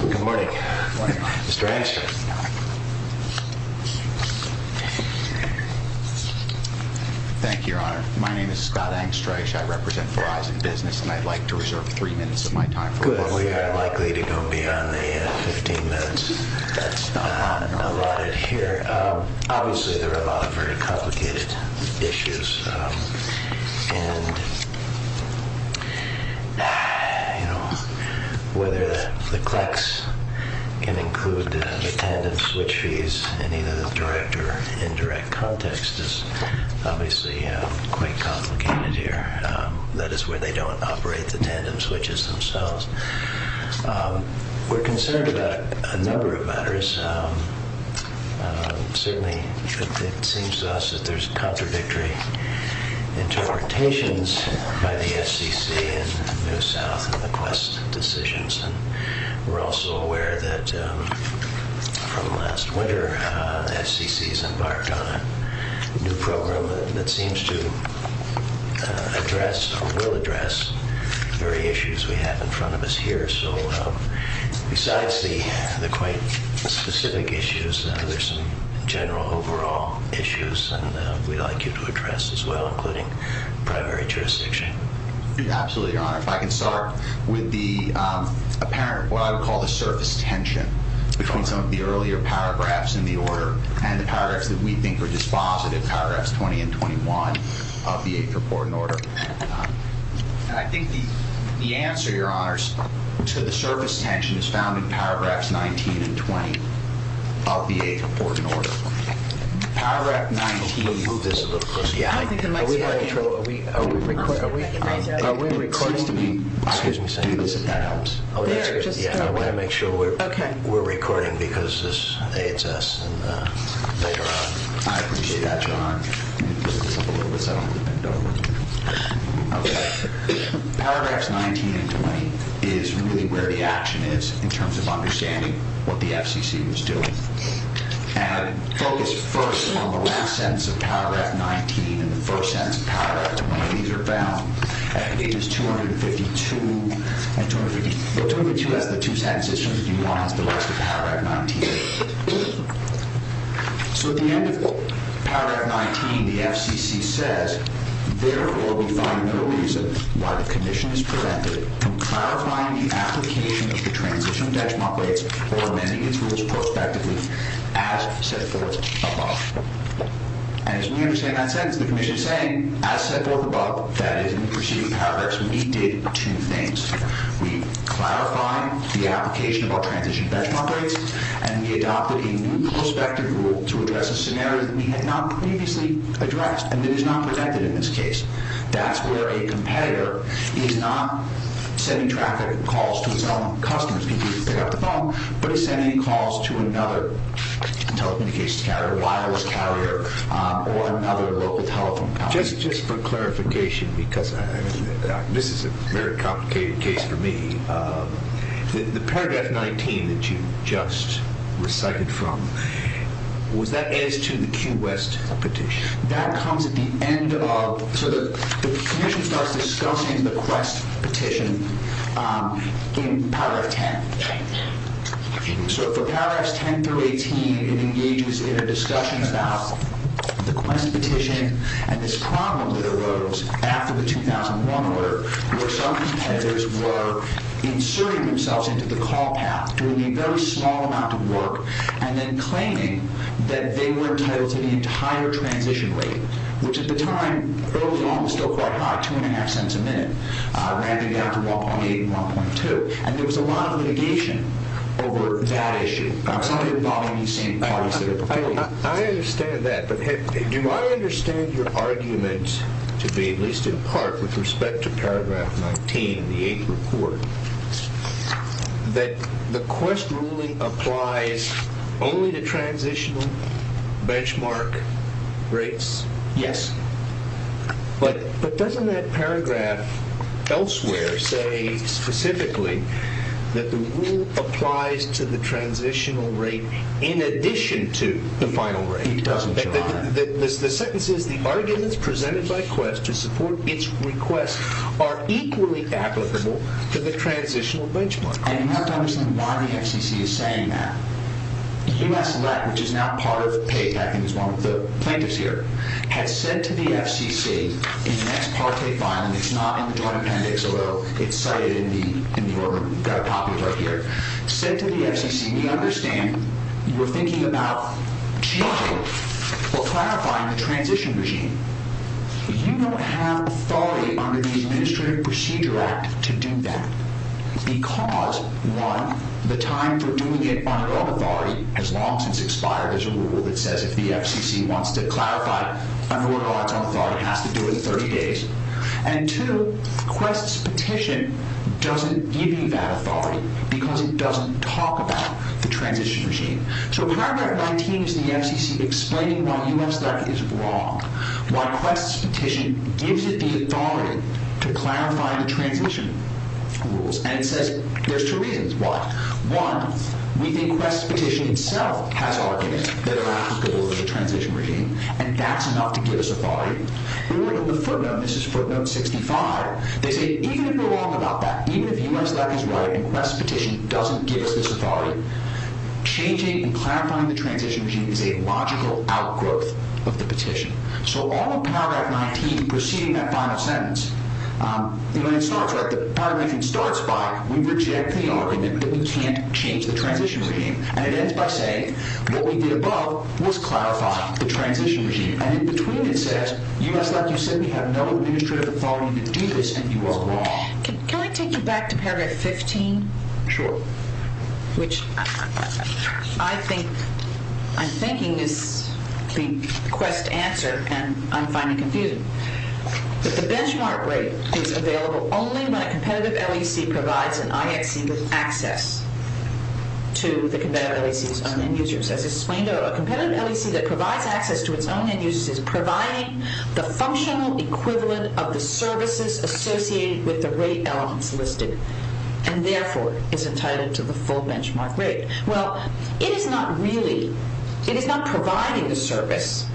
Good morning, Mr. Angstrich. Thank you, Your Honor. My name is Scott Angstrich. I represent Verizon Business, and I'd like to reserve three minutes of my time for what we are likely to go beyond the 15 minutes allotted here. Obviously, there are a lot of very complicated issues, and, you know, whether the CLECs can include the tandem switch fees in either the direct or indirect context is obviously quite complicated here. That is where they don't operate the tandem switches themselves. We're concerned about a number of matters. Certainly, it seems to us that there's contradictory interpretations by the FCC and New South and the Quest decisions. We're also aware that, from last winter, the FCC has embarked on a new program that seems to address or will address the very issues we have in front of us here. Besides the quite specific issues, there are some general overall issues we'd like you to address as well, including primary jurisdiction. Absolutely, Your Honor. If I can start with the apparent, what I would call the surface tension between some of the earlier paragraphs in the order and the paragraphs that we think are dispositive, paragraphs 20 and 21 of the 8th Report and Order. I think the answer, Your Honor, to the surface tension is found in paragraphs 19 and 20 of the 8th Report and Order. Paragraph 19, move this a little closer. I don't think the mic's working. Are we recording? Excuse me, say this at that ounce. There, just a little. I want to make sure we're recording because this hates us later on. I appreciate that, Your Honor. Paragraphs 19 and 20 is really where the action is in terms of understanding what the FCC was doing. Focus first on the last sentence of paragraph 19 and the first sentence of paragraph 20. These are found at pages 252 and 252 has the two sentences, 251 has the rest of paragraph 19. At the end of paragraph 19, the FCC says, Therefore, we find no reason why the Commission is prevented from clarifying the application of the transition benchmark rates or amending its rules prospectively as set forth above. As we understand that sentence, the Commission is saying, as set forth above, that is, in the preceding paragraphs, we did two things. We clarified the application of our transition benchmark rates and we adopted a new prospective rule to address a scenario that we had not previously addressed and that is not protected in this case. That's where a competitor is not sending traffic calls to its own customers, people who pick up the phone, but is sending calls to another telecommunications carrier, wireless carrier, or another local telephone company. Just for clarification, because this is a very complicated case for me, the paragraph 19 that you just recited from, was that as to the Q. West petition? That comes at the end of, so the Commission starts discussing the Quest petition in paragraph 10. So for paragraphs 10 through 18, it engages in a discussion about the Quest petition and this problem that arose after the 2001 order, where some competitors were inserting themselves into the call path, doing a very small amount of work, and then claiming that they were entitled to the entire transition rate, which at the time, early on, was still quite high, 2.5 cents a minute, rather than down to 1.8 and 1.2, and there was a lot of litigation over that issue. I understand that, but do I understand your argument to be, at least in part, with respect to paragraph 19 in the eighth report, that the Quest ruling applies only to transitional benchmark rates? Yes. But doesn't that paragraph elsewhere say specifically that the rule applies to the transitional rate in addition to the final rate? It doesn't, Your Honor. The sentence is, the arguments presented by Quest to support its request are equally applicable to the transitional benchmark. And you have to understand why the FCC is saying that. U.S. LEC, which is now part of PAPAC and is one of the plaintiffs here, has said to the FCC in the next part of the filing, it's not in the Joint Appendix, although it's cited in the order we've got a copy of right here, said to the FCC, we understand you're thinking about changing or clarifying the transition regime. You don't have authority under the Administrative Procedure Act to do that, because, one, the time for doing it under all authority has long since expired. There's a rule that says if the FCC wants to clarify it under all its own authority, it has to do it in 30 days. And two, Quest's petition doesn't give you that authority because it doesn't talk about the transition regime. So paragraph 19 is the FCC explaining why U.S. LEC is wrong, why Quest's petition gives it the authority to clarify the transition rules. And it says there's two reasons why. One, we think Quest's petition itself has arguments that are applicable to the transition regime, and that's enough to give us authority. Earlier in the footnote, this is footnote 65, they say even if you're wrong about that, even if U.S. LEC is right and Quest's petition doesn't give us this authority, changing and clarifying the transition regime is a logical outgrowth of the petition. So all of paragraph 19 preceding that final sentence, you know, when it starts, right, the paragraph it starts by, we reject the argument that we can't change the transition regime, and it ends by saying what we did above was clarify the transition regime. And in between it says, U.S. LEC, you said we have no administrative authority to do this, and you are wrong. Can I take you back to paragraph 15? Sure. Which I think, I'm thinking this being Quest's answer, and I'm finding it confusing. That the benchmark rate is available only when a competitive LEC provides an IXC with access to the competitive LEC's own end users. As explained earlier, a competitive LEC that provides access to its own end users is providing the functional equivalent of the services associated with the rate elements listed, and therefore is entitled to the full benchmark rate. Well, it is not really, it is not providing the service.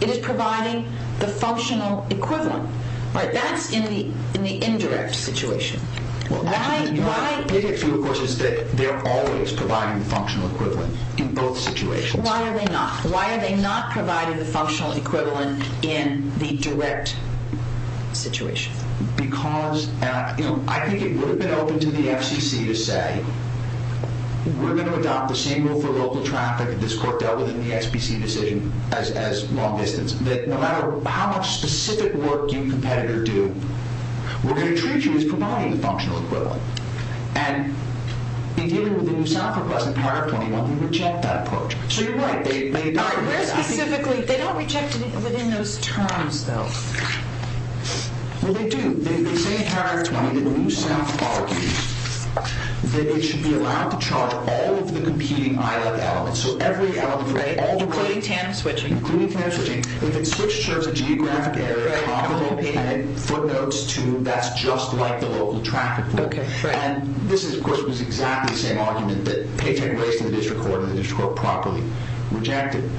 It is providing the functional equivalent. Right, that's in the indirect situation. Why, why, The issue of course is that they're always providing the functional equivalent in both situations. Why are they not? Why are they not providing the functional equivalent in the direct situation? Because, you know, I think it would have been open to the FCC to say, we're going to adopt the same rule for local traffic that this court dealt with in the SBC decision as long distance, that no matter how much specific work you competitor do, we're going to treat you as providing the functional equivalent. And in dealing with the New South request in paragraph 21, we reject that approach. So you're right. Where specifically? They don't reject it within those terms, though. Well, they do. They say in paragraph 20 that New South argues that it should be allowed to charge all of the competing ILEC elements. So every element, all the, Including TANF switching. Including TANF switching. If it's switched to a geographic area, And it footnotes to that's just like the local traffic rule. And this, of course, was exactly the same argument that Paycheck Waste and the district court and the district court properly rejected.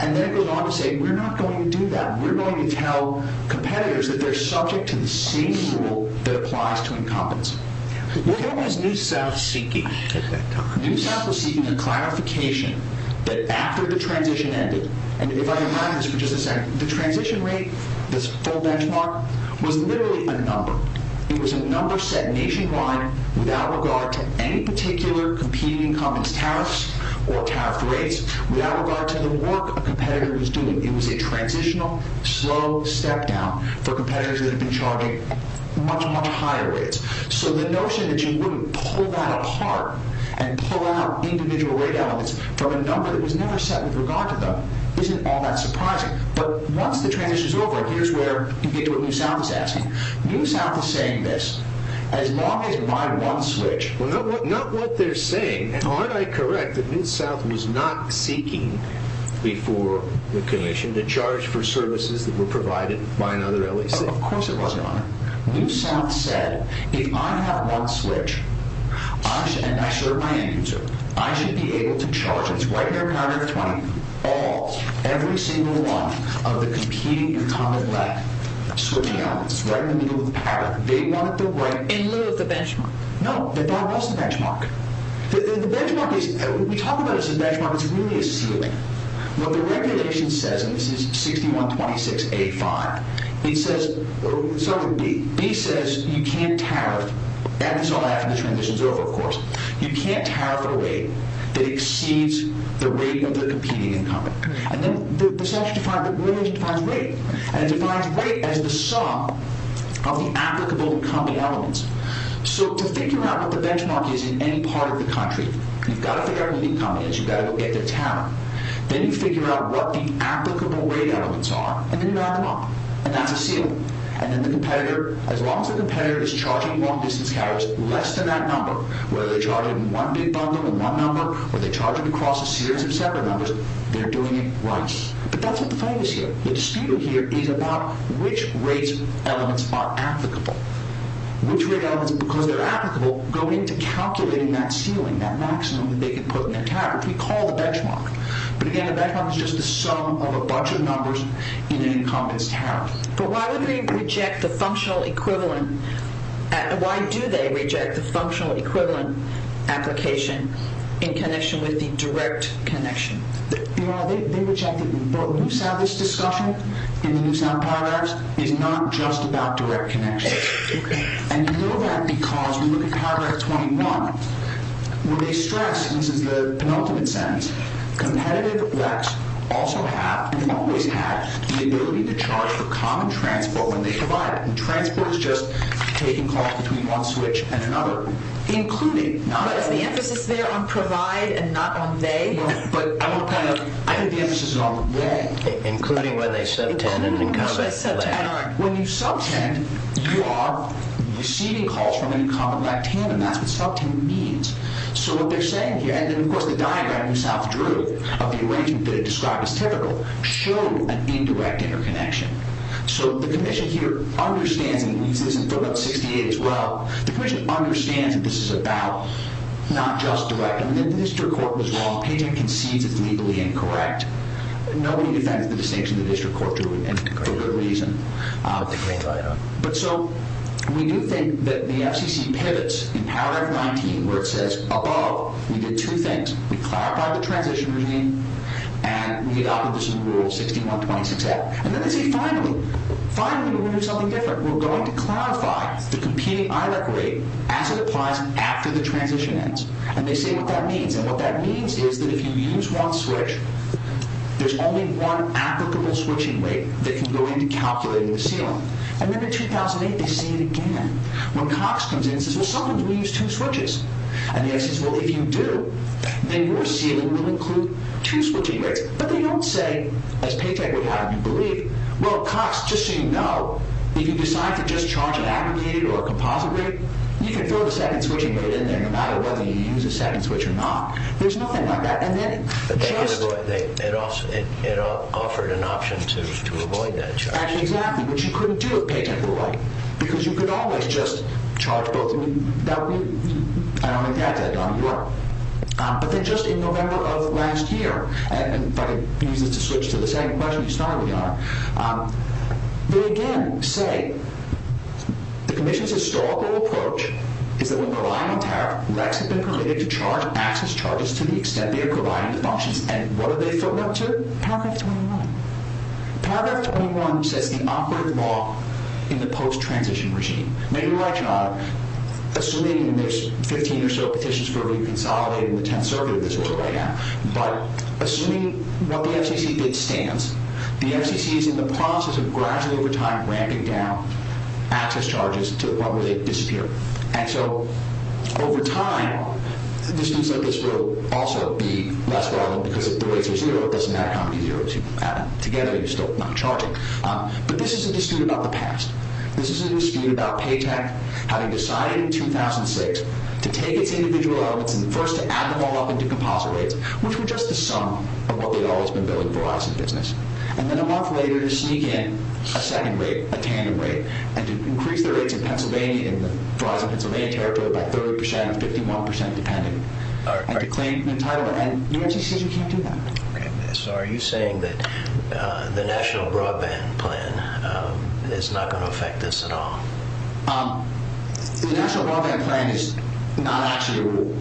And then it goes on to say, we're not going to do that. We're going to tell competitors that they're subject to the same rule that applies to incompetence. What is New South seeking? New South is seeking a clarification that after the transition ended, The transition rate, this full benchmark, was literally a number. It was a number set nationwide without regard to any particular competing incompetence tariffs or tariff rates, Without regard to the work a competitor was doing. It was a transitional, slow step down for competitors that had been charging much, much higher rates. So the notion that you wouldn't pull that apart and pull out individual rate elements from a number that was never set with regard to them, Isn't all that surprising. But once the transition is over, here's where you get to what New South is asking. New South is saying this. As long as my one switch... Well, not what they're saying. And aren't I correct that New South was not seeking before the commission to charge for services that were provided by another LAC? Of course it wasn't, Your Honor. New South said, if I have one switch, and I serve my end user, I should be able to charge, and it's right in their counter to 20, All, every single one of the competing incumbent LAC switching elements. Right in the middle of the pattern. They wanted the right... In lieu of the benchmark. No, that was the benchmark. The benchmark is... We talk about it as a benchmark, it's really a ceiling. What the regulation says, and this is 6126.85, It says... Sorry, B. B says you can't tariff. That is all I have after the transition is over, of course. You can't tariff at a rate that exceeds the rate of the competing incumbent. And then the regulation defines rate. And it defines rate as the sum of the applicable incumbent elements. So to figure out what the benchmark is in any part of the country, You've got to figure out who the incumbent is, you've got to go get their tariff. Then you figure out what the applicable rate elements are, and then you add them up. And that's a ceiling. And then the competitor, as long as the competitor is charging long distance carriers less than that number, Whether they're charging one big bundle in one number, Or they're charging across a series of separate numbers, They're doing it right. But that's what the fight is here. The dispute here is about which rate elements are applicable. Which rate elements, because they're applicable, Go into calculating that ceiling, that maximum they can put in their tariff, Which we call the benchmark. But again, the benchmark is just the sum of a bunch of numbers in an incumbent's tariff. But why would they reject the functional equivalent? Why do they reject the functional equivalent application in connection with the direct connection? They reject it. But we have this discussion in the New South Paragraphs, It's not just about direct connection. And you know that because we look at Paragraph 21, Where they stress, and this is the penultimate sentence, Competitive WECs also have, and always have, The ability to charge for common transport when they provide it. And transport is just taking calls between one switch and another. Including, not only... But is the emphasis there on provide and not on they? No, but I don't kind of... I think the emphasis is on when. Including when they subtend an incumbent. When you subtend, you are receiving calls from an incumbent like Tim, And that's what subtending means. So what they're saying here, and of course the diagram New South drew, Of the arrangement that it described as typical, Showed an indirect interconnection. So the commission here understands, And it leads to this in footnote 68 as well, The commission understands that this is about not just direct. And then the district court was wrong. Pageant concedes it's legally incorrect. Nobody defends the distinction the district court drew, And for good reason. But so, we do think that the FCC pivots in Paragraph 19, Where it says, above, we did two things. We clarified the transition regime, And we adopted this in Rule 61.26f. And then they say, finally. Finally, we're going to do something different. We're going to clarify the competing ILEC rate, As it applies after the transition ends. And they say what that means. And what that means is that if you use one switch, There's only one applicable switching rate That can go into calculating the ceiling. And then in 2008, they say it again. When Cox comes in and says, well, sometimes we use two switches. And the guy says, well, if you do, Then your ceiling will include two switching rates. But they don't say, as Paytech would have you believe, Well, Cox, just so you know, If you decide to just charge an aggregated or a composite rate, You can throw the second switch and put it in there, No matter whether you use a second switch or not. There's nothing like that. And then just... It offered an option to avoid that charge. Exactly. Which you couldn't do if Paytech were right. Because you could always just charge both. I don't think they had that done in Europe. But then just in November of last year, And if I could use this to switch to the second question, You started with, Your Honor. They again say, The Commission's historical approach Is that when relying on tariff, RECs have been permitted to charge access charges To the extent they are providing the functions. And what are they footing up to? Paragraph 21. Paragraph 21 says the operative law in the post-transition regime. Maybe you're right, Your Honor. Assuming there's 15 or so petitions for reconsolidating The Tenth Circuit of this order right now. But assuming what the FCC did stands, The FCC is in the process of gradually, over time, Ramping down access charges to what would disappear. And so, over time, Disputes like this will also be less relevant Because if the rates are zero, it doesn't matter how many zeros you add up. Together, you're still not charging. But this is a dispute about the past. This is a dispute about Paytech Having decided in 2006 To take its individual elements And first to add them all up into composite rates Which were just the sum of what they'd always been billing for us in business. And then a month later, to sneak in a second rate, a tandem rate, And to increase the rates in Pennsylvania, In the Verizon Pennsylvania Territory, By 30% or 51% depending. And to claim new title. And UMC says you can't do that. So are you saying that the National Broadband Plan Is not going to affect this at all? The National Broadband Plan is not actually a rule.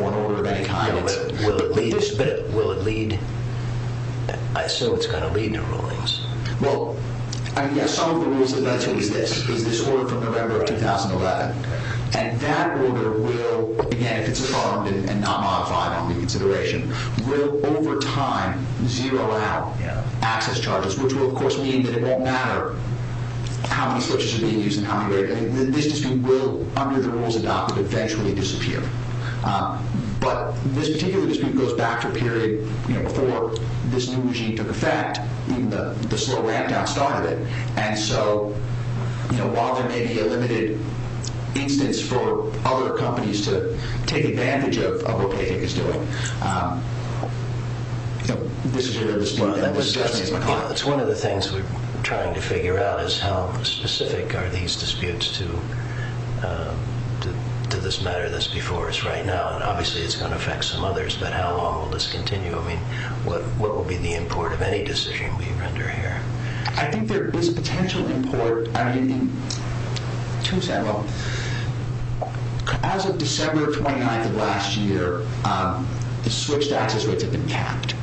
Or an order of any kind. But will it lead? So it's going to lead to rulings. Well, I guess some of the rules that lead to is this. Is this order from November of 2011. And that order will, Again, if it's affirmed and not modified on reconsideration, Will, over time, Zero out access charges. Which will, of course, mean that it won't matter How many switches are being used and how many rates. This dispute will, under the rules adopted, Eventually disappear. But this particular dispute goes back to a period Before this new regime took effect. Even the slow ramp down started it. And so, while there may be a limited instance For other companies to take advantage of What Payday is doing, This is a different dispute. It's one of the things we're trying to figure out. How specific are these disputes to This matter that's before us right now. And obviously it's going to affect some others. But how long will this continue? What will be the import of any decision we render here? I think there is potential import. As of December 29th of last year, The switched access rates have been capped.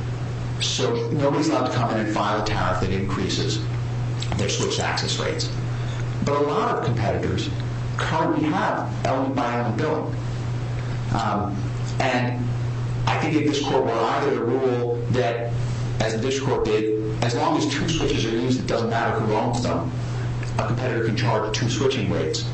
So, nobody is allowed to come in and file a tariff That increases their switched access rates. But a lot of competitors Currently have element-by-element billing. And I think if this court were either to rule That, as this court did, As long as two switches are used, It doesn't matter who owns them. A competitor can charge two switching rates.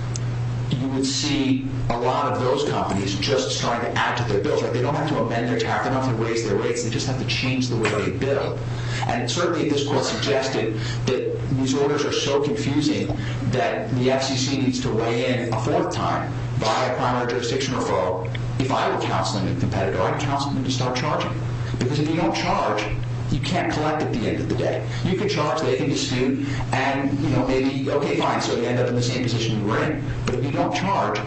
You would see a lot of those companies Just starting to add to their bills. They don't have to amend their tax reform They don't have to raise their rates. They just have to change the way they bill. And certainly this court suggested That these orders are so confusing That the FCC needs to weigh in a fourth time By a primary jurisdiction referral If I were counseling a competitor. I'd counsel them to start charging. Because if you don't charge, You can't collect at the end of the day. You can charge, they can dispute, And maybe, okay, fine, So we end up in the same position we were in. But if you don't charge,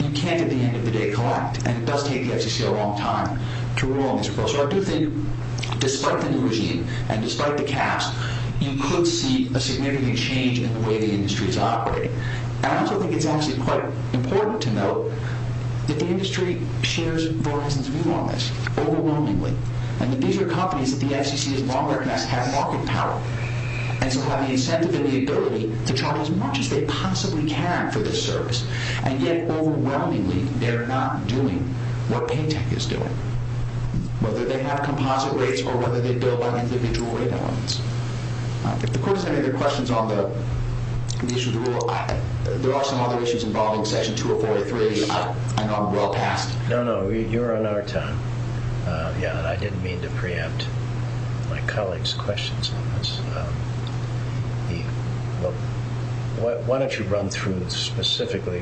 You can't, at the end of the day, collect. And it does take the FCC a long time To rule on this bill. So I do think, despite the new regime, And despite the caps, You could see a significant change In the way the industry is operating. And I also think it's actually quite important to note That the industry shares, for instance, View on this overwhelmingly. And that these are companies That the FCC has long recognized Have market power, And so have the incentive and the ability To charge as much as they possibly can For this service. And yet, overwhelmingly, They're not doing what Paytech is doing. Whether they have composite rates Or whether they build on individual rate elements. If the court has any other questions On the issue of the rule, There are some other issues Involving section 2043 And on the rule passed. No, no, you're on our time. Yeah, and I didn't mean to preempt My colleague's questions on this. Why don't you run through Specifically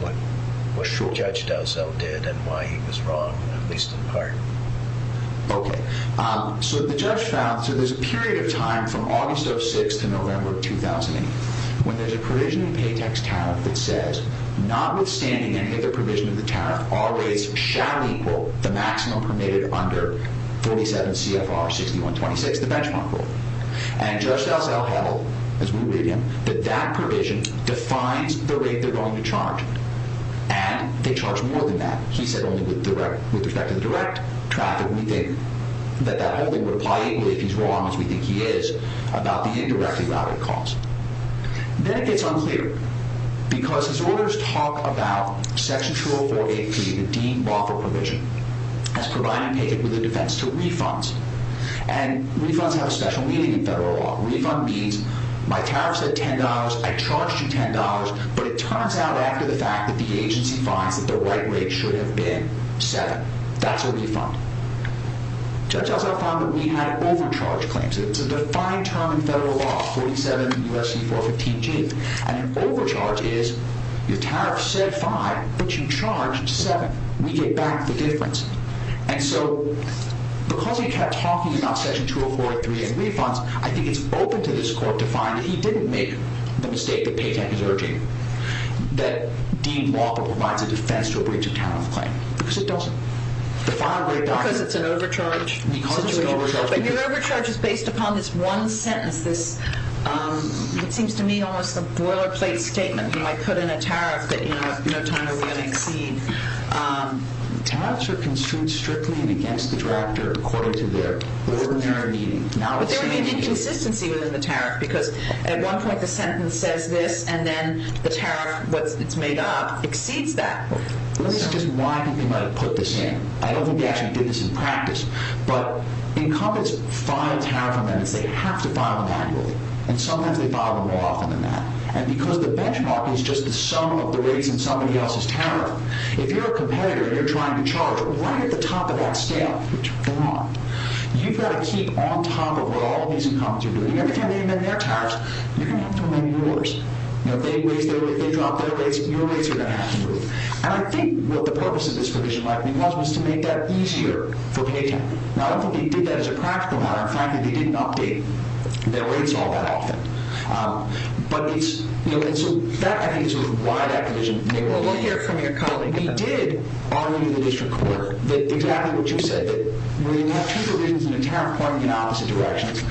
What Judge Dowsell did And why he was wrong, at least in part. Okay. So the judge found, So there's a period of time From August of 2006 to November of 2008 When there's a provision in Paytech's tariff That says, notwithstanding Any other provision of the tariff, All rates shall equal the maximum permitted Under 47 CFR 6126, The benchmark rule. And Judge Dowsell held, As we believe him, that that provision Defines the rate they're going to charge. And they charge more than that. He said only with respect To the direct traffic we think That that whole thing would apply equally If he's wrong, as we think he is, About the indirectly routed cost. Then it gets unclear. Because his orders talk about Section 2043, the deemed lawful provision As providing Paytech with a defense To refunds. And refunds have a special meaning in federal law. Refund means, my tariff said $10, I charged you $10, But it turns out, after the fact, That the agency finds that the right rate Should have been $7. That's a refund. Judge Dowsell found that we had overcharged claims. It's a defined term in federal law, 47 U.S.C. 415G. And an overcharge is, Your tariff said $5, but you charged $7. We get back the difference. And so, because he kept talking About Section 2043 and refunds, I think it's open to this court To find that he didn't make the mistake That Paytech is urging. That deemed lawful provides a defense To a breach of tariff claim. Because it doesn't. Because it's an overcharge? But your overcharge is based upon this one sentence, This, it seems to me, Almost a boilerplate statement, You know, I put in a tariff That in no time are we going to exceed. Tariffs are construed Strictly and against the drafter According to their ordinary meaning. But there may be consistency Within the tariff, because at one point The sentence says this, and then The tariff, what it's made up, Exceeds that. This is just why I think they might have put this in. I don't think they actually did this in practice. But incumbents file tariff amendments. They have to file them annually. And sometimes they file them more often than that. And because the benchmark is just The sum of the rates in somebody else's tariff, If you're a competitor and you're trying to charge Right at the top of that scale, You've got to keep on top Of what all of these incumbents are doing. Every time they amend their tariffs, You're going to have to amend yours. You know, they raise their rates, they drop their rates, Your rates are going to have to move. And I think what the purpose of this provision might have been was To make that easier for paytax. Now, I don't think they did that as a practical matter. In fact, they didn't update their rates all that often. But it's You know, and so that, I think, is why that provision May well be. We did argue in the district court That exactly what you said. That when you have two provisions in a tariff Pointing in opposite directions,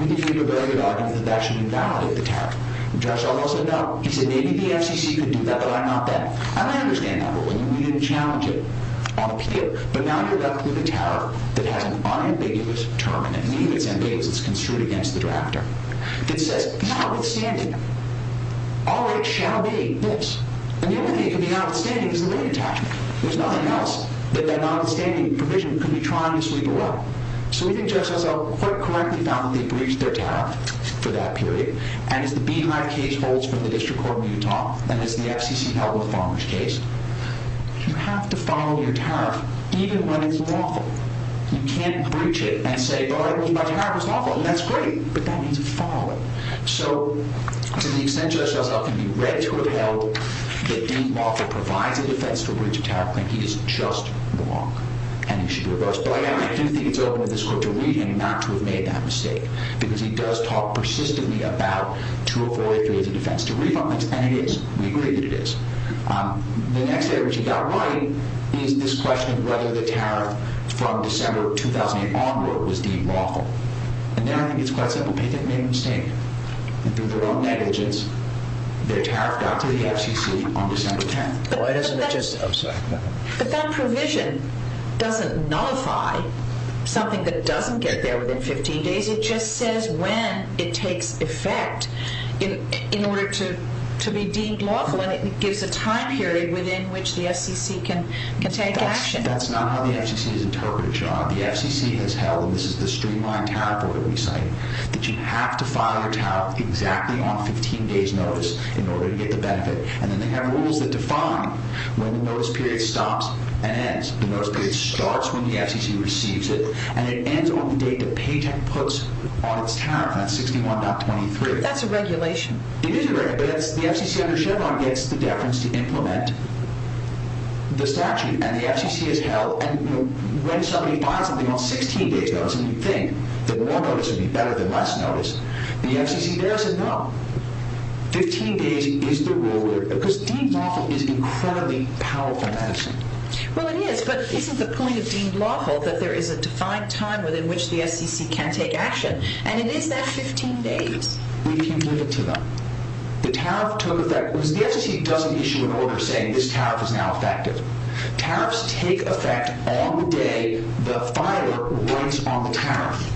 We can give you a very good argument that that should invalidate the tariff. Judge Arnold said no. He said maybe the FCC could do that, but I'm not that. And I understand that, but we didn't challenge it On appeal. But now you're left with a tariff that has an unambiguous Term, and I believe it's ambiguous, Because it's construed against the drafter. That says, notwithstanding, All rates shall be this. And the only thing that can be notwithstanding Is the rate attachment. There's nothing else That that notwithstanding provision Could be trying to sweep away. So we think Judge Hassell quite correctly found that they breached their tariff For that period. And as the Beehive case holds for the district court In Utah, and as the FCC held With Farmer's case, You have to follow your tariff Even when it's lawful. You can't breach it and say, Well, my tariff was lawful, and that's great. But that means following. So to the extent Judge Hassell Can be read to have held That Dean Wofford provides a defense to a breach of tariff I think he is just wrong. And he should be reversed. But I do think it's open for this court to read and not to have made that mistake. Because he does talk persistently About to avoid Doing the defense. To read on this, and it is. We agree that it is. The next thing Richard got right Is this question of whether the tariff From December 2008 onward Was deemed lawful. And there I think it's quite simple. They didn't make a mistake. Through their own negligence, their tariff got to the FCC On December 10th. But that provision Doesn't nullify Something that doesn't get there Within 15 days. It just says When it takes effect In order to Be deemed lawful, and it gives a time period Within which the FCC can take action. That's not how the FCC Has interpreted it, John. The FCC has held And this is the streamlined tariff order we cite That you have to file your tariff Exactly on 15 days notice In order to get the benefit. And then they have rules that define When the notice period stops and ends. The notice period starts when the FCC receives it And it ends on the date the paycheck Puts on its tariff. That's 61.23. That's a regulation. It is a regulation, but the FCC Under Chevron gets the deference to implement The statute. And the FCC has held When somebody files something on 16 days notice And you think the more notice would be better Than less notice, the FCC Doesn't know. 15 days is the rule. Because deemed lawful is incredibly powerful In medicine. Well it is, but isn't the point of deemed lawful That there is a defined time within which the FCC Can take action, and it is that 15 days. We can't give it to them. The tariff took effect Because the FCC doesn't issue an order saying This tariff is now effective. Tariffs take effect on the day The filer writes on the tariff.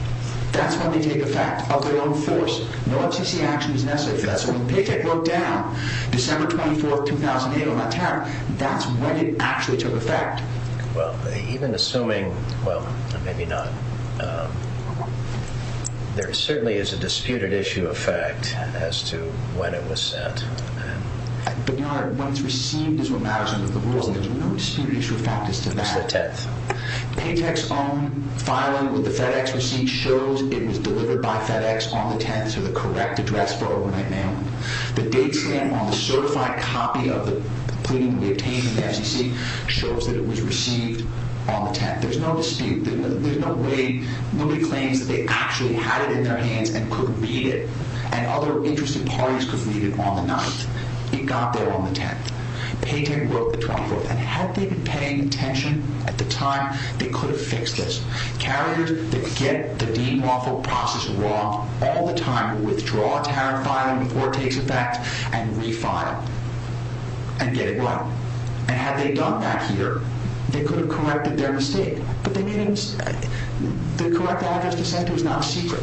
That's when they take effect Of their own force. No FCC action is necessary for that. So when the paycheck broke down, December 24, 2008 On that tariff, that's when it actually took effect. Well, even assuming Well, maybe not. There certainly is a Disputed issue of fact As to when it was set. But when it's received Is what matters under the rules. There's no disputed issue of fact as to that. It's the 10th. Paycheck's own filing with the FedEx receipt Shows it was delivered by FedEx on the 10th To the correct address for overnight mailing. The date stamp on the certified copy Of the pleading we obtained In the FCC shows that it was received On the 10th. There's no dispute. Nobody claims that they actually Had it in their hands and could read it. And other interested parties Could read it on the 9th. It got there on the 10th. Paycheck broke the 24th. And had they been paying attention at the time They could have fixed this. Carriers that get the Dean Waffle process wrong All the time withdraw a tariff filing Before it takes effect And refile. And get it right. And had they done that here They could have corrected their mistake. But they didn't. The correct address to send to is not a secret.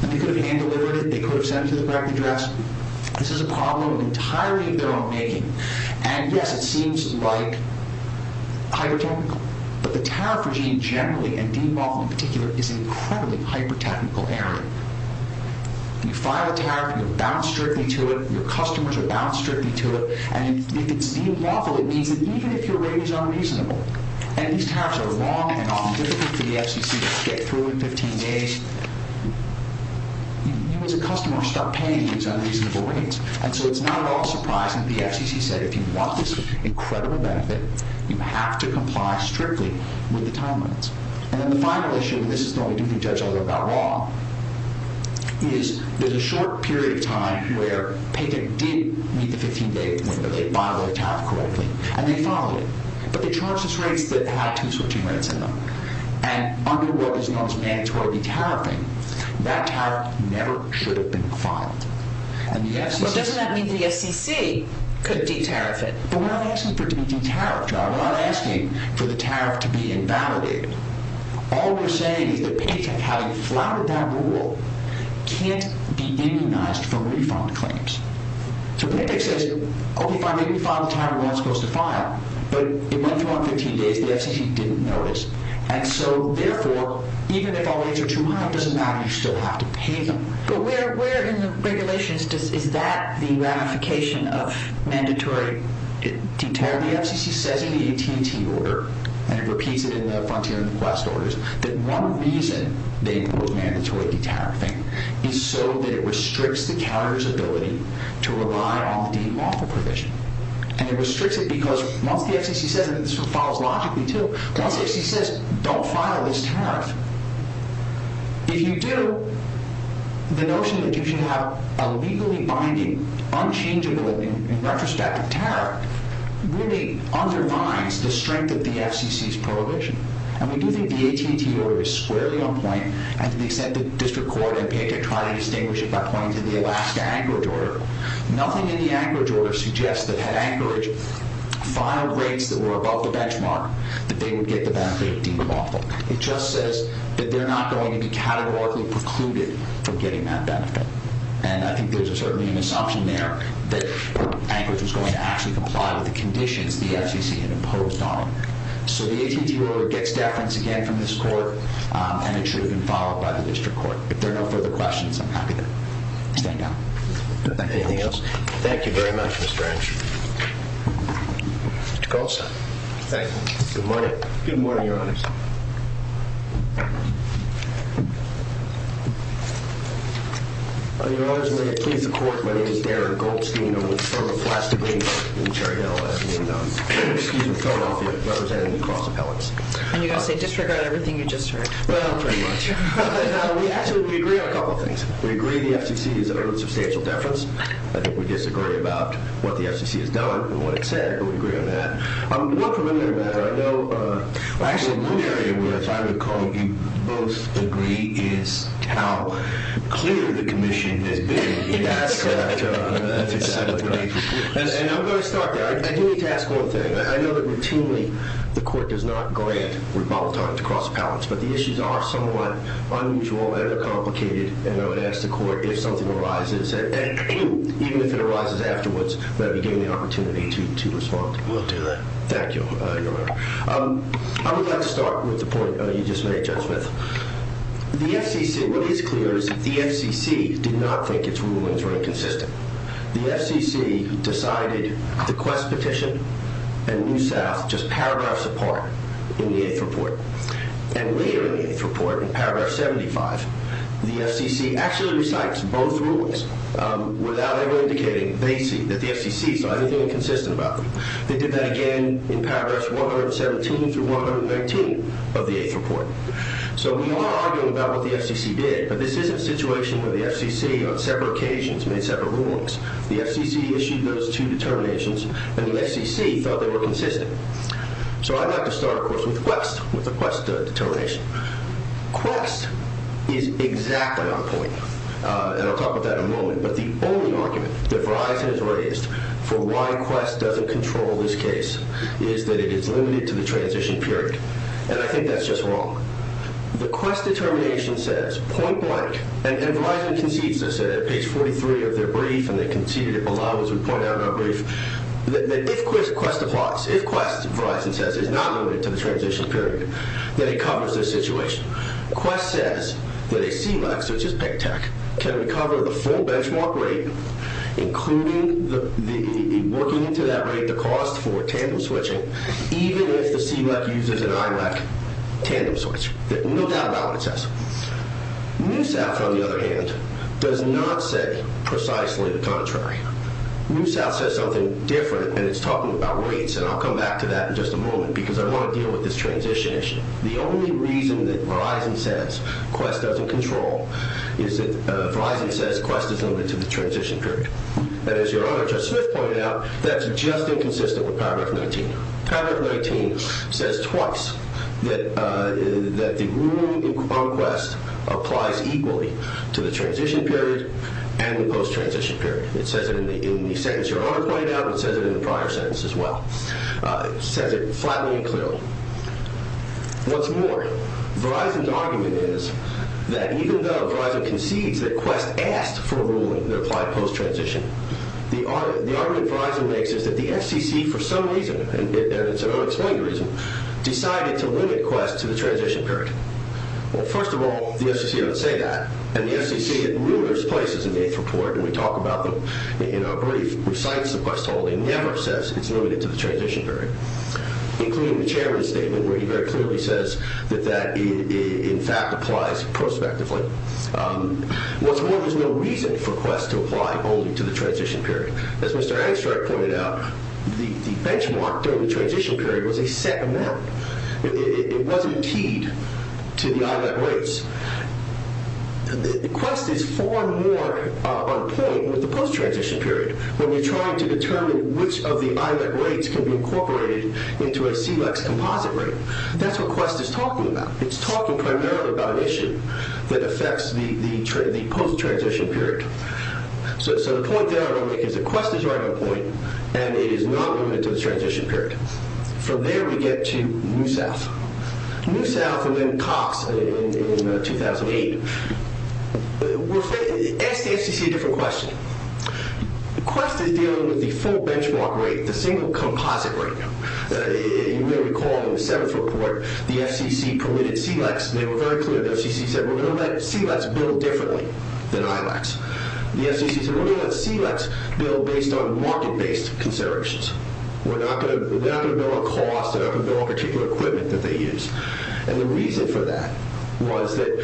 They could have hand-delivered it. They could have sent it to the correct address. This is a problem entirely of their own making. And yes, it seems like Hyper-technical. But the tariff regime generally And Dean Waffle in particular Is an incredibly hyper-technical area. You file a tariff. You're bound strictly to it. Your customers are bound strictly to it. And if it's Dean Waffle It means that even if your rate is unreasonable And these tariffs are long and often difficult For the FCC to get through in 15 days You as a customer start paying These unreasonable rates. And so it's not at all surprising that the FCC said If you want this incredible benefit You have to comply strictly With the time limits. And then the final issue, and this is the only thing The judge will go about wrong Is There's a short period of time where Paytech did meet the 15-day window They filed their tariff correctly And they filed it. But they charged us rates that had two switching rates in them. And under what is known as mandatory de-tariffing That tariff Never should have been filed. But doesn't that mean the FCC Could de-tariff it? But we're not asking for it to be de-tariffed. We're not asking for the tariff to be invalidated. All we're saying is That Paytech, having flouted that rule Can't be immunized From refund claims. So Paytech says Okay fine, maybe we file the tariff when it's supposed to file But it went through on 15 days The FCC didn't notice. And so therefore, even if our rates are too high It doesn't matter, you still have to pay them. But where in the regulations Is that the ramification of Mandatory de-tariffing? Well the FCC says in the AT&T order And it repeats it in the AT&T order. The reason they quote mandatory de-tariffing Is so that it restricts the counter's ability To rely on the default provision. And it restricts it because Once the FCC says And this follows logically too Once the FCC says don't file this tariff If you do The notion that you should have A legally binding, unchangeable In retrospective tariff Really undermines The strength of the FCC's prohibition. And we do think the AT&T order Is squarely on point And to the extent that the district court and PICA Try to distinguish it by pointing to the Alaska Anchorage order Nothing in the Anchorage order Suggests that had Anchorage Filed rates that were above the benchmark That they would get the benefit of de-tariffing. It just says that they're not going to be Categorically precluded From getting that benefit. And I think there's certainly an assumption there That Anchorage was going to actually comply With the conditions the FCC had imposed on them. So the AT&T order gets deference Again from this court And it should have been followed by the district court. If there are no further questions, I'm happy to stand down. Anything else? Thank you very much, Mr. Ensch. Mr. Goldstein. Thank you. Good morning, your honors. On your orders, may I please the court My name is Darren Goldstein I'm with Fergus Lastigate in Cherrydale And I'm representing the cross appellate. And you're going to say Disregard everything you just heard. Well, pretty much. We actually agree on a couple of things. We agree the FCC is earning substantial deference I think we disagree about what the FCC has done And what it said, but we agree on that. I'm more familiar with Actually one area If I recall, you both agree Is how clear The commission has been In asking that And I'm going to start there I do need to ask one thing I know that routinely the court does not Grant rebuttal time to cross appellates But the issues are somewhat Unusual and complicated And I would ask the court if something arises And even if it arises afterwards Would I be given the opportunity to respond? We'll do that. Thank you, your honor. I would like to start with the point you just made, Judge Smith. The FCC What is clear is that the FCC Did not think its rulings were inconsistent. The FCC Decided the Quest petition And New South just paragraphs Apart in the 8th report. And later in the 8th report In paragraph 75 The FCC actually recites both rulings Without ever indicating They see that the FCC saw anything inconsistent About them. They did that again In paragraphs 117 through 119 Of the 8th report. So we are arguing about what the FCC Did, but this isn't a situation where the FCC On several occasions made several rulings. The FCC issued those two Determinations and the FCC Thought they were consistent. So I'd like to start, of course, with Quest. With the Quest determination. Quest is exactly on point. And I'll talk about that in a moment. But the only argument that Verizon Has raised for why Quest Doesn't control this case Is that it is limited to the transition period. And I think that's just wrong. The Quest determination Says point blank And Verizon concedes this at page 43 Of their brief, and they conceded it below As we point out in our brief That if Quest applies, if Quest, Verizon says Is not limited to the transition period Then it covers this situation. Quest says that a CLEC Such as PICTEC can recover The full benchmark rate Including the Working into that rate, the cost for tandem switching Even if the CLEC Uses an IMAC tandem switch. No doubt about what it says. NewSouth, on the other hand Does not say precisely The contrary. NewSouth says something different, and it's talking About rates, and I'll come back to that in just a moment Because I want to deal with this transition issue. The only reason that Verizon Says Quest doesn't control Is that Verizon says Quest is limited to the transition period. And as your other, Judge Smith, pointed out That's just inconsistent with paragraph 19. Paragraph 19 says Twice that The ruling on Quest Applies equally to the transition Period and the post-transition Period. It says it in the sentence Your other pointed out, it says it in the prior sentence as well. It says it Flatly and clearly. What's more, Verizon's argument Is that even though Verizon concedes that Quest asked For a ruling that applied post-transition The argument Verizon makes Is that the FCC, for some reason And it's an unexplained reason Decided to limit Quest to the transition period. Well, first of all The FCC doesn't say that, and the FCC In numerous places in the eighth report And we talk about them in our brief Recites that Quest holding never says It's limited to the transition period. Including the chairman's statement where he very clearly Says that that In fact applies prospectively. What's more, there's no reason For Quest to apply only to the transition Period. As Mr. Angstreich pointed out The benchmark during the transition Period was a set amount. It wasn't keyed To the IMAP rates. Quest is Far more on point with The post-transition period when you're trying To determine which of the IMAP rates Can be incorporated into a CLEX composite rate. That's what Quest Is talking about. It's talking primarily About an issue that affects The post-transition period. So the point there I want to make is that Quest is right on point And it is not limited to the transition period. From there we get to New South. New South And then Cox in 2008. Ask the FCC a different question. Quest is dealing With the full benchmark rate, the single Composite rate. You may recall in the seventh report The FCC permitted CLEX. They were very clear. The FCC said we're going to let CLEX Build differently than ILEX. The FCC said we're going to let CLEX Build based on market-based Considerations. We're not going to Build on cost. We're not going to build on particular Equipment that they use. And the reason For that was that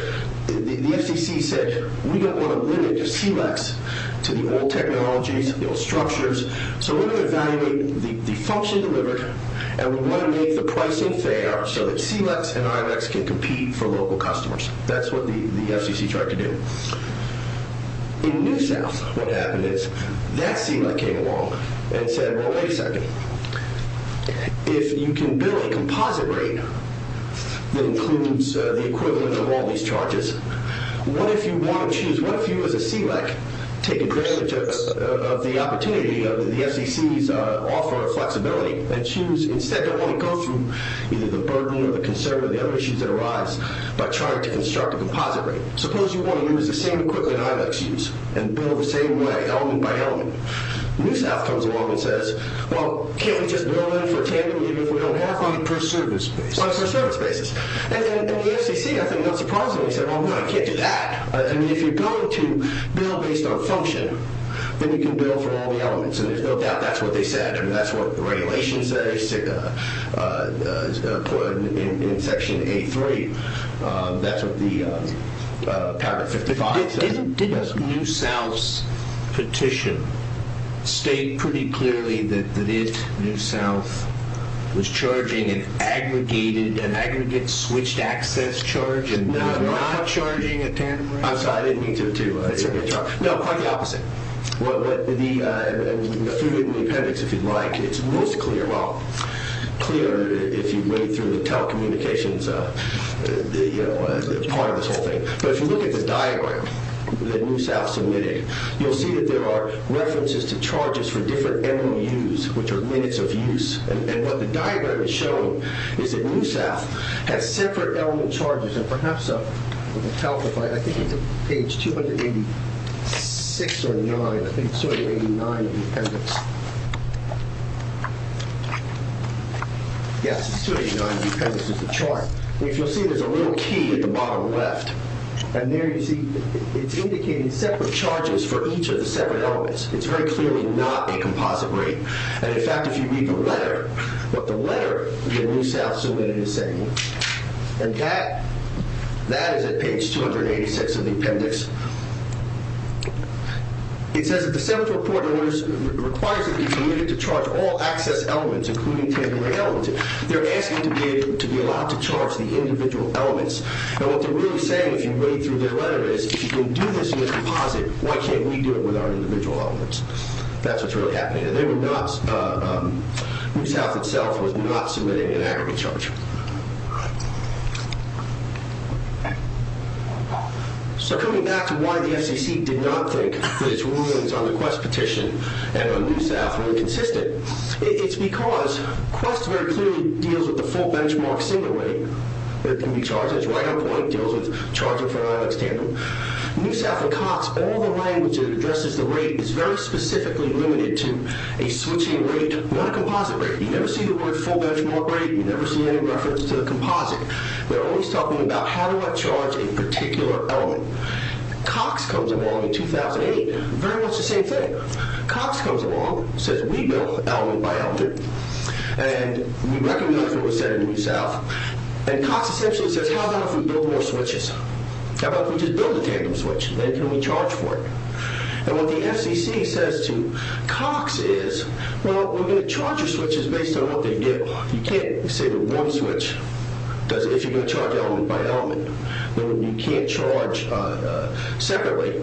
The FCC said We don't want to limit CLEX To the old technologies, the old structures So we're going to evaluate The function delivered and we're going To make the pricing fair so that CLEX and ILEX can compete for local Customers. That's what the FCC Tried to do. In New South, what happened is That CLEX came along and said Well, wait a second. If you can build a composite Rate that includes The equivalent of all these charges What if you want to choose What if you as a CLEX take advantage Of the opportunity Of the FCC's offer of Flexibility and choose instead to only Go through either the burden or the Issues that arise by trying To construct a composite rate. Suppose you Want to use the same equipment ILEX used And build the same way, element by element. New South comes along and says Well, can't we just build it for Tandem even if we don't have one? On a per service basis. And the FCC, I think not surprisingly, said Well, no, you can't do that. I mean, if you're Going to build based on function Then you can build for all the elements. And there's no doubt that's what they said. And that's what the regulations Say In section A3, that's what the Paragraph 55 Didn't New South's Petition State pretty clearly that If New South Was charging an aggregated An aggregate switched access charge And not charging a Tandem rate? I didn't mean to No, quite the opposite. What the Appendix if you'd like It's most clear If you read through the telecommunications Part of this whole thing But if you look at the diagram That New South submitted You'll see that there are references To charges for different MOUs Which are minutes of use And what the diagram is showing Is that New South has separate element Charges and perhaps I think it's page 286 Or 9 I think it's 289 Yes, it's 289 If you'll see there's a little key at the bottom Left and there you see It's indicating separate charges For each of the separate elements It's very clearly not a composite rate And in fact if you read the letter What the letter New South submitted Is saying And that is at page 286 Of the appendix It says It says that the Senate report Requires that it be permitted to charge All access elements including They're asking to be Allowed to charge the individual elements And what they're really saying If you read through their letter Is if you can do this in a composite Why can't we do it with our individual elements That's what's really happening And they were not New South itself was not submitting An aggregate charge So coming back To why the FCC Did not think That it's rulings on the Quest petition And on New South were inconsistent It's because Quest very clearly Deals with the full benchmark single rate That can be charged It's right on point It deals with charging for an ilex tandem New South and Cox All the language that addresses the rate Is very specifically limited to a switching rate Not a composite rate You never see the word full benchmark rate You never see any reference to the composite They're always talking about how do I charge A particular element Cox comes along in 2008 Very much the same thing Cox comes along, says we build Element by element And we recognize what was said in New South And Cox essentially says How about if we build more switches How about if we just build a tandem switch Then can we charge for it And what the FCC says to Cox is Well we're going to charge your switches Based on what they do You can't say with one switch If you're going to charge element by element You can't charge separately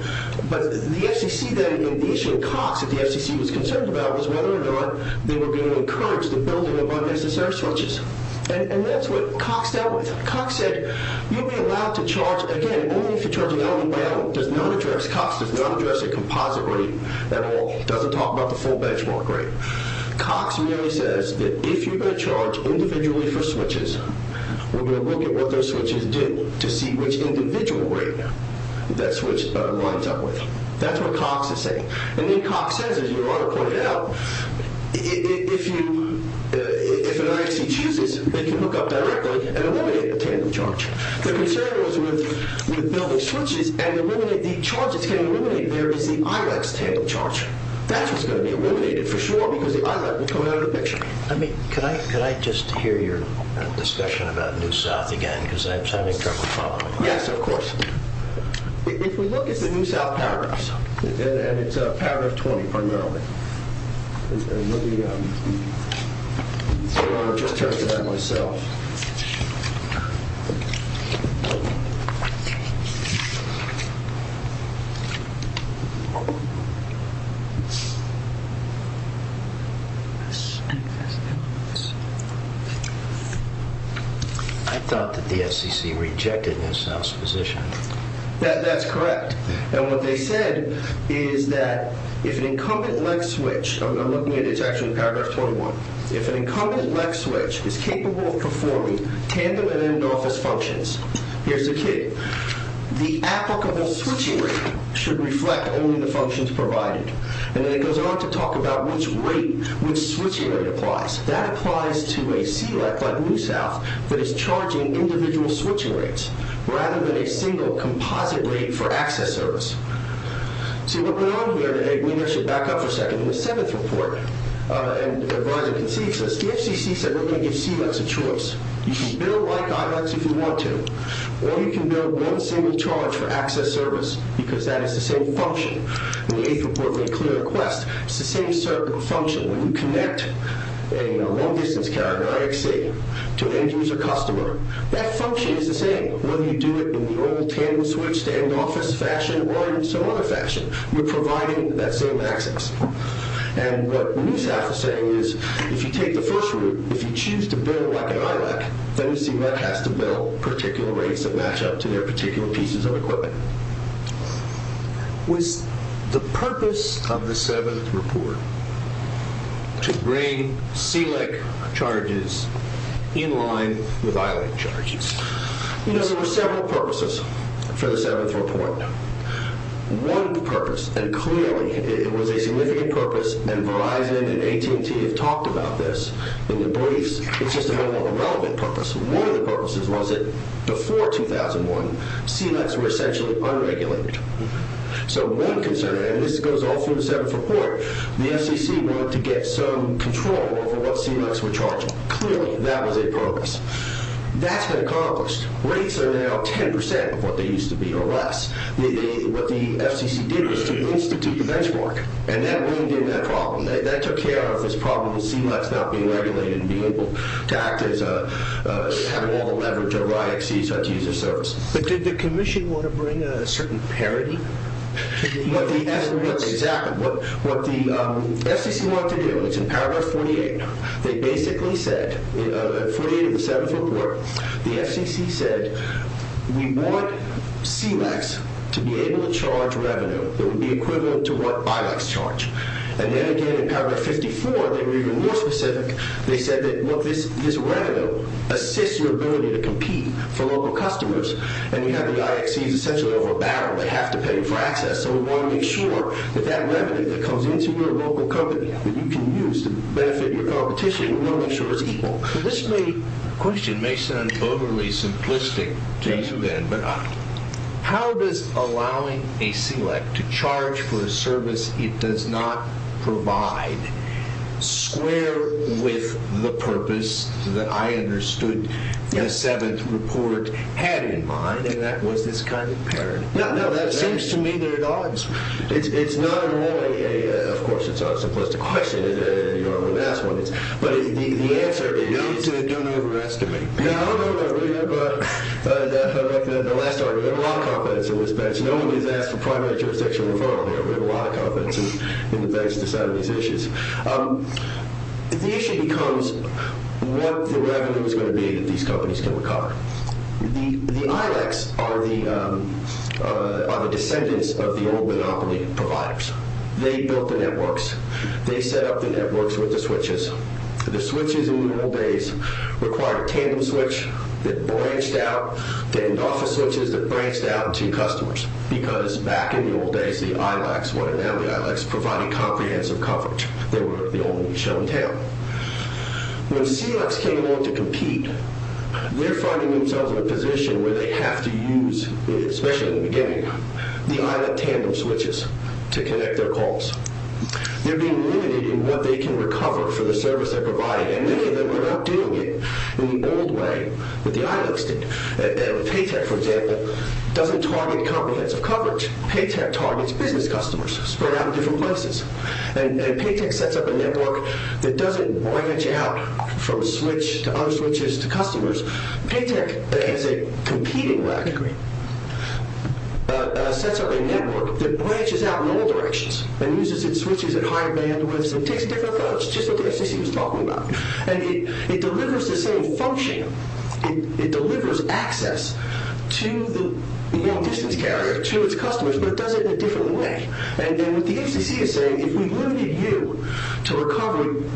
But the FCC The issue Cox at the FCC Was concerned about was whether or not They were being encouraged to build Unnecessary switches And that's what Cox dealt with Cox said you'll be allowed to charge Again only if you're charging element by element Cox does not address a composite rate At all, doesn't talk about the full benchmark rate Cox merely says That if you're going to charge individually For switches We're going to look at what those switches do To see which individual rate That switch lines up with That's what Cox is saying And then Cox says as your author pointed out If you If an IFC chooses They can hook up directly and eliminate the tandem charge The concern was with Building switches and eliminating The charge that's going to be eliminated there Is the Ilex tandem charge That's what's going to be eliminated for sure Because the Ilex will come out of the picture Could I just hear your discussion About New South again Because I'm having trouble following Yes of course If we look at the New South And it's paragraph 20 primarily Let me Just turn to that myself I Thought That the FCC Rejected New South's position That's correct And what they said Is that If an incumbent Ilex switch I'm looking at it, it's actually paragraph 21 If an incumbent Ilex switch Is capable of performing Tandem and end office functions Here's the key The applicable switching rate Should reflect only the functions provided And then it goes on to talk about Which rate, which switching rate applies That applies to a SELEC Like New South That is charging individual switching rates Rather than a single composite rate For access service See what went on here today We actually back up for a second In the seventh report The FCC said we're going to give SELECs a choice You can build like Ilex if you want to Or you can build one single charge For access service Because that is the same function In the eighth report It's the same function When you connect a long distance carrier To an end user customer That function is the same Whether you do it in the old Tandem switch to end office fashion Or in some other fashion You're providing that same access And what New South is saying is If you take the first route If you choose to build like an Ilex Then you see that has to build Particular rates that match up to their Particular pieces of equipment Was the purpose Of the seventh report To bring SELEC charges In line with Ilex charges You know there were several purposes For the seventh report One purpose And clearly it was a significant purpose And Verizon and AT&T Have talked about this In the briefs It's just another irrelevant purpose One of the purposes was that before 2001 SELECs were essentially unregulated So one concern And this goes all through the seventh report The FCC wanted to get some control Over what SELECs were charging Clearly that was a purpose That's been accomplished Rates are now 10% of what they used to be Or less What the FCC did was to institute the benchmark And that really did that problem And that took care of this problem With SELECs not being regulated And being able to act as Having all the leverage over IXCs But did the commission want to bring A certain parity To the use of SELECs Exactly, what the FCC wanted to do Is in paragraph 48 They basically said In 48 of the seventh report The FCC said We want SELECs to be able to charge Revenue that would be equivalent To what BILACs charge And then again in paragraph 54 They were even more specific They said that this revenue Assists your ability to compete For local customers And we have the IXCs essentially over a barrel They have to pay for access So we want to make sure that that revenue That comes into your local company That you can use to benefit your competition We want to make sure it's equal This question may sound overly simplistic To you then, but How does allowing A SELEC to charge For a service it does not Provide Square with the purpose That I understood The seventh report had In mind, and that was this kind of parity No, no, that seems to me they're at odds It's not really Of course it's a simplistic question You already asked one But the answer is Don't overestimate No, no, no, we have The last argument We have a lot of confidence in this bench No one gets asked for primary jurisdiction referral We have a lot of confidence in the bench To decide on these issues The issue becomes What the revenue is going to be That these companies can recover The ILACs are the Monopoly providers They built the networks They set up the networks with the switches The switches in the old days Required a tandem switch That branched out To end office switches that branched out to customers Because back in the old days The ILACs, what are now the ILACs Provided comprehensive coverage They were the only show in town When SELECs came along to compete They're finding themselves in a position Where they have to use Especially in the beginning The ILAC tandem switches To connect their calls They're being limited In what they can recover for the service they're providing And many of them are not doing it In the old way that the ILACs did Paytech, for example Doesn't target comprehensive coverage Paytech targets business customers Spread out in different places And Paytech sets up a network That doesn't branch out From switch to other switches to customers Paytech, as a competing Lab degree Sets up a network That branches out in all directions And uses its switches at high bandwidth And takes different calls Just like the FCC was talking about And it delivers the same function It delivers access To the long distance carrier To its customers But it does it in a different way And then what the FCC is saying If we limited you to recovery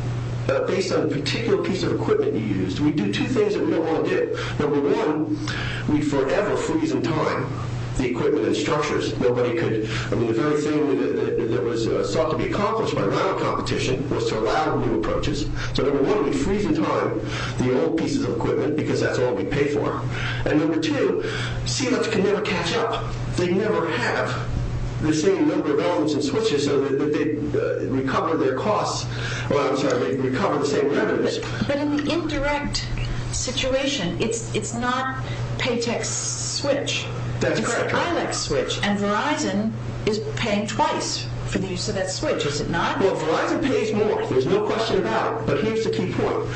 Based on a particular piece of equipment you used We'd do two things that we don't want to do Number one, we'd forever freeze in time The equipment and structures I mean, the very thing that was Sought to be accomplished by now In competition was to allow new approaches So number one, we'd freeze in time The old pieces of equipment Because that's all we'd pay for And number two, CLFs can never catch up They never have the same Number of elements and switches So that they'd recover their costs I'm sorry, they'd recover the same revenues But in the indirect situation It's not Paytech's switch It's the ILEX switch And Verizon is paying twice For the use of that switch, is it not? Well, Verizon pays more There's no question about it But here's the key point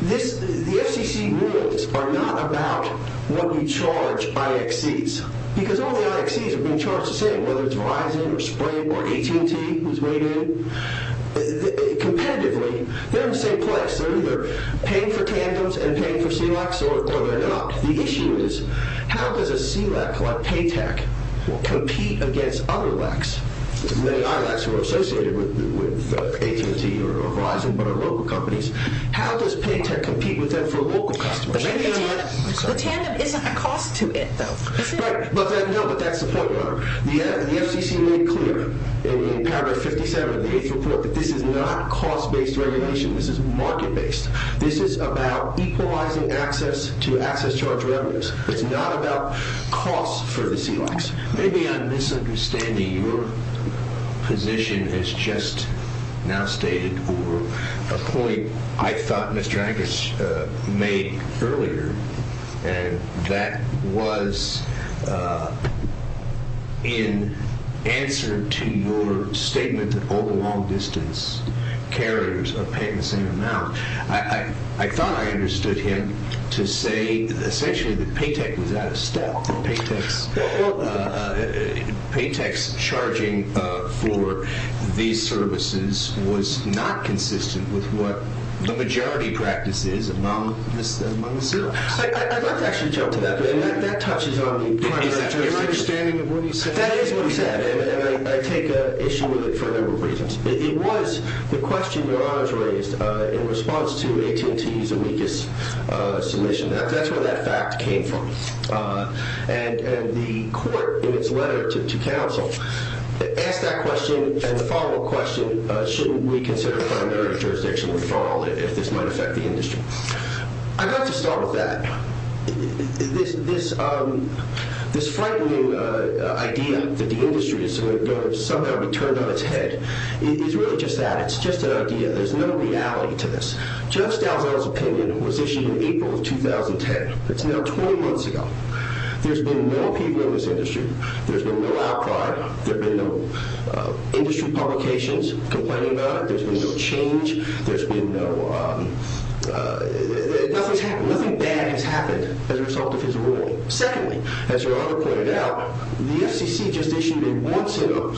The FCC rules are not about What you charge IXCs Because all the IXCs have been charged the same Whether it's Verizon or Sprint or AT&T Who's weighed in Competitively, they're in the same place They're either paying for tandems And paying for CLFs or they're not The issue is, how does a CLF Like Paytech Compete against other ILECs Who are associated with AT&T or Verizon But are local companies How does Paytech compete with them for local customers? The tandem isn't a cost to it, though Right, but that's the point The FCC made clear In paragraph 57 The eighth report That this is not cost-based regulation This is market-based This is about equalizing Access to access-charged revenues It's not about cost for the CLFs Maybe I'm misunderstanding Your position As just now stated Or a point I thought Mr. Angus Made earlier And that was In answer To your statement That all the long-distance carriers Are paying the same amount I thought I understood him To say essentially that Paytech Was out of style Paytech's Charging for These services Was not consistent with what The majority practice is Among the CLFs I'd like to actually jump to that That touches on the Is that your understanding of what he said? That is what he said And I take issue with it For a number of reasons It was the question your honors raised In response to AT&T's amicus Submission That's where that fact came from And the court In its letter to counsel Asked that question And the follow-up question Shouldn't we consider primary jurisdiction referral If this might affect the industry I'd like to start with that This frightening Idea that the industry Is going to somehow be turned on its head It's really just that It's just an idea There's no reality to this Jeff Stelzner's opinion was issued in April of 2010 It's now 20 months ago There's been no people in this industry There's been no outcry There's been no industry publications Complaining about it There's been no change There's been no Nothing bad has happened As a result of his ruling Secondly, as your honor pointed out The FCC just issued a once in a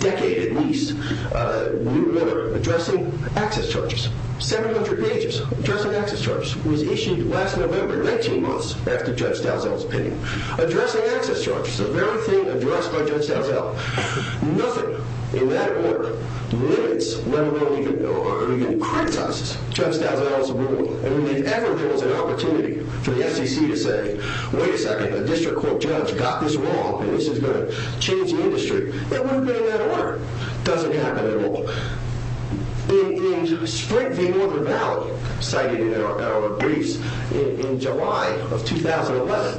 Decade at least New order addressing Access charges 700 pages, addressing access charges Was issued last November, 19 months After Jeff Stelzner's opinion Addressing access charges The very thing addressed by Jeff Stelzner Nothing in that order Limits or even Criticizes Jeff Stelzner's ruling And if ever there was an opportunity For the FCC to say Wait a second, a district court judge got this wrong And this is going to change the industry It wouldn't have been in that order Doesn't happen at all In Sprint v. Northern Valley Cited in our briefs In July of 2011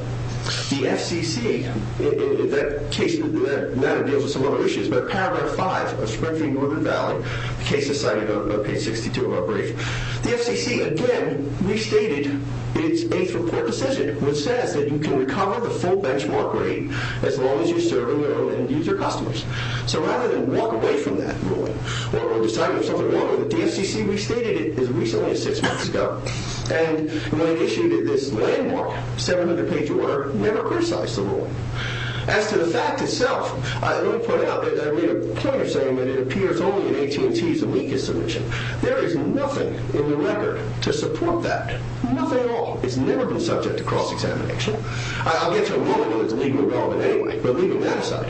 The FCC In that case That deals with some other issues Paragraph 5 of Sprint v. Northern Valley The case is cited on page 62 of our brief The FCC, again Restated its eighth report decision Which says that you can recover The full benchmark rate As long as you serve and use your customers So rather than walk away from that ruling Or decide on something wrong with it The FCC restated it as recently as six months ago And when it issued This landmark 700 page order Never criticized the ruling As to the fact itself Let me point out It appears only in AT&T's Weakest submission There is nothing in the record to support that Nothing at all It's never been subject to cross-examination I'll get to a moment when it's legally relevant anyway But leaving that aside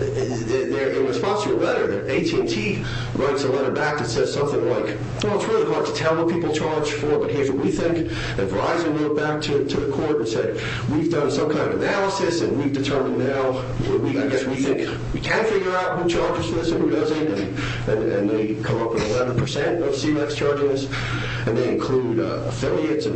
In response to your letter AT&T writes a letter back That says something like Well it's really hard to tell what people charge for But here's what we think And Verizon wrote back to the court and said We've done some kind of analysis And we've determined now I guess we think we can figure out Who charges for this and who doesn't And they come up with 11% Of CMEX charges And they include affiliates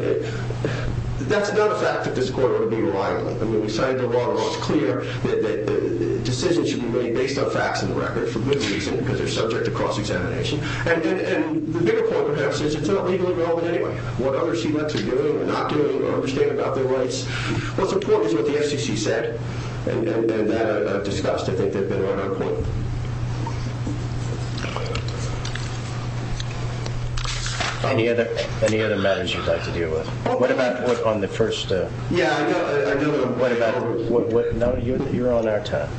That's not a fact that this court Ought to be reliant on It's clear that decisions Should be made based on facts in the record For good reason because they're subject to cross-examination And the bigger point perhaps Is it's not legally relevant anyway What other CMEX are doing or not doing Or understand about their rights What's important is what the FCC said And that I've discussed I think they've been right on point Any other matters you'd like to deal with? What about on the first Yeah I know What about You're on our time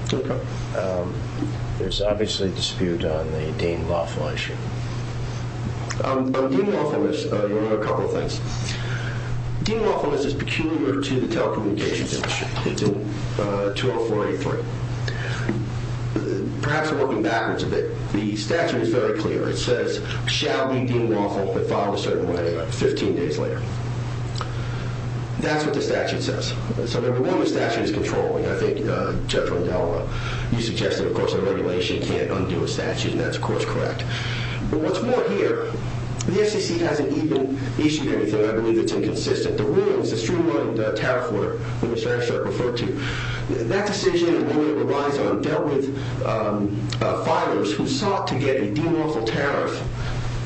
There's obviously a dispute On the Dean Lawful issue Dean Lawful You know a couple of things Dean Lawful is peculiar To the telecommunications industry It's in 20483 Perhaps Working backwards a bit The statute is very clear It says shall be Dean Lawful But filed a certain way 15 days later That's what the statute says So number one the statute is controlling I think Judge Rondella You suggested of course a regulation Can't undo a statute and that's of course correct But what's more here The FCC hasn't even issued anything I believe it's inconsistent The rule is a streamlined tariff order Which I referred to That decision relies on Fighters who sought To get a Dean Lawful tariff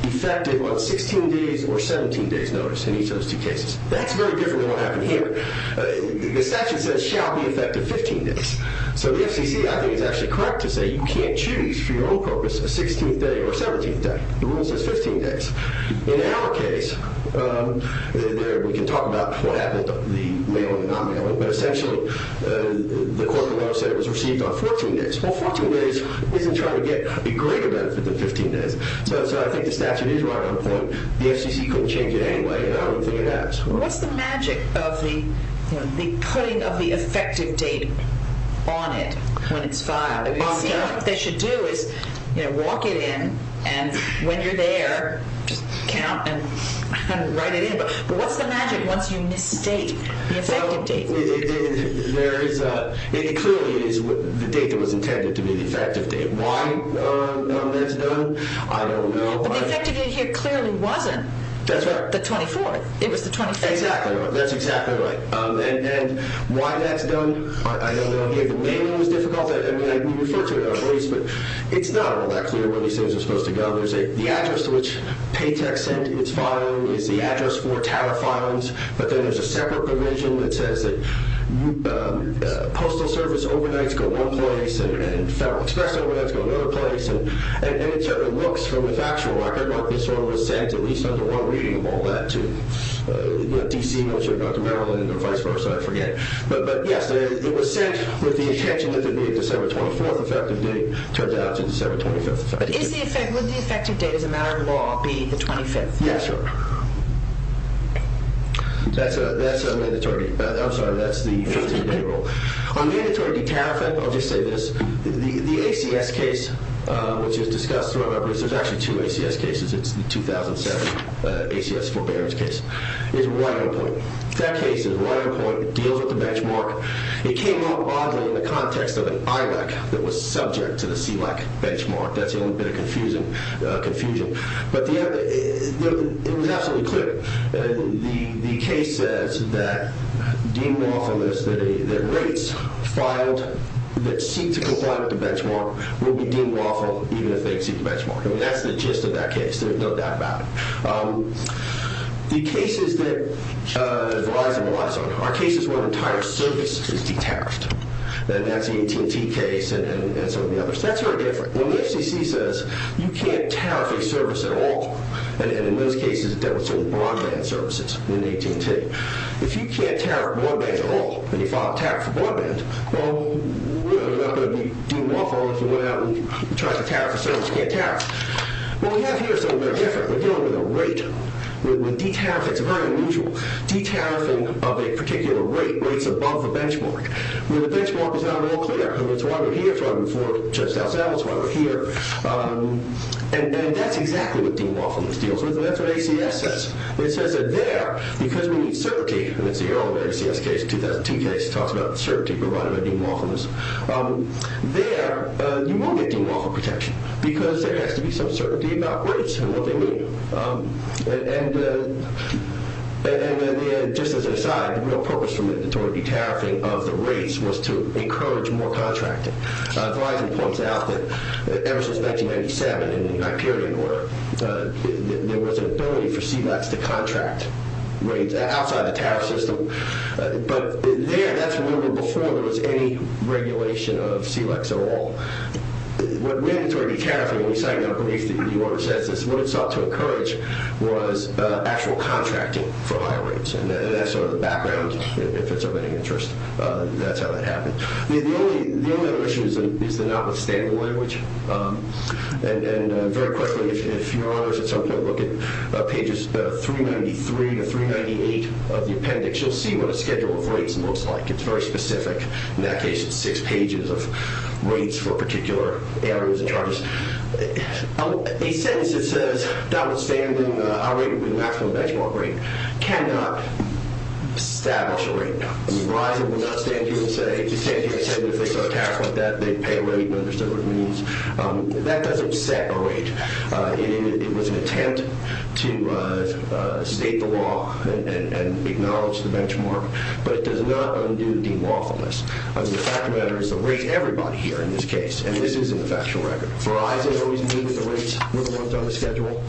Effective on 16 days Or 17 days notice in each of those two cases That's very different than what happened here The statute says shall be effective 15 days So the FCC I think is actually correct to say You can't choose for your own purpose A 16th day or a 17th day The rule says 15 days In our case We can talk about what happened The mailing and non-mailing But essentially the court of law said It was received on 14 days Well 14 days isn't trying to get a greater benefit than 15 days So I think the statute is right on point The FCC couldn't change it anyway And I don't think it has What's the magic of the Putting of the effective date On it when it's filed What they should do is Walk it in And when you're there Count and write it in But what's the magic once you misstate The effective date It clearly is The date that was intended to be the effective date Why that's done I don't know But the effective date here clearly wasn't The 24th That's exactly right And why that's done I know the mailing was difficult I mean we refer to it in our case But it's not all that clear where these things are supposed to go There's the address to which Paytech Sent its filing Is the address for Tower Filings But then there's a separate provision that says Postal service Overnights go one place And Federal Express Overnights go another place And it looks from the factual record Like this one was sent at least under one reading Of all that To D.C. Militia or Dr. Maryland But yes It was sent with the intention That it would be a December 24th effective date Turns out to be December 25th Would the effective date as a matter of law Be the 25th Yes That's mandatory I'm sorry that's the 15 day rule On mandatory tariff I'll just say this The ACS case which is discussed There's actually two ACS cases It's the 2007 ACS forbearance case That case is right on point That case is right on point It deals with the benchmark It came up oddly in the context of an IREC That was subject to the CLEC benchmark That's the only bit of confusion But the other It was absolutely clear The case says that Deemed lawful is that rates Filed that seek to comply With the benchmark Will be deemed lawful even if they exceed the benchmark That's the gist of that case There's no doubt about it The cases that Verizon was on Are cases where the entire service is detached And that's the AT&T case And some of the others That's very different When the FCC says you can't tariff a service at all And in those cases it dealt with some broadband services In AT&T If you can't tariff broadband at all And you file a tariff for broadband Well we're not going to be deemed lawful If we went out and tried to tariff a service Well we have here We're dealing with a rate It's very unusual De-tariffing of a particular rate Where it's above the benchmark Where the benchmark is not at all clear It's why we're here, it's why we're there It's why we're here And that's exactly what deemed lawfulness deals with And that's what ACS says It says that there, because we need certainty And it's the early ACS case, the 2002 case Talks about the certainty provided by deemed lawfulness There Now, you won't get deemed lawful protection Because there has to be some certainty about rates And what they mean And Just as an aside The real purpose for the de-tariffing of the rates Was to encourage more contracting Verizon points out that Ever since 1997 In the United Kingdom There was an ability for CELEX to contract Rates outside the tariff system But there That's where we were before there was any Regulation of CELEX at all What went into our de-tariffing When we signed our brief that the order says What it sought to encourage Was actual contracting for higher rates And that's sort of the background If it's of any interest That's how that happened The only other issue is the notwithstanding language And very quickly If you're on us at some point Look at pages 393 to 398 Of the appendix You'll see what a schedule of rates looks like It's very specific In that case it's six pages Of rates for particular areas A sentence that says Notwithstanding Our rate would be the maximum benchmark rate Cannot establish a rate Verizon would not stand here and say If they saw a tariff like that They'd pay a rate That doesn't set a rate It was an attempt To state the law And acknowledge the benchmark But it does not undo the lawfulness I mean the fact of the matter Is the rate everybody here in this case And this is in the factual record Verizon always knew that the rates were the ones on the schedule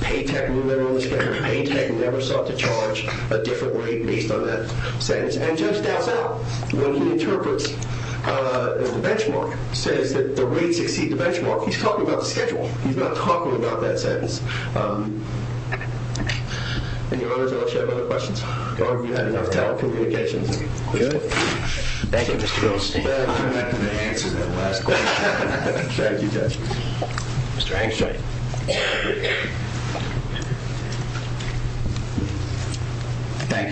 Paytech knew they were on the schedule Paytech never sought to charge a different rate Based on that sentence And just doubts out When he interprets the benchmark Says that the rates exceed the benchmark He's talking about the schedule He's not talking about that sentence Any others Other questions Telecommunications Thank you Thank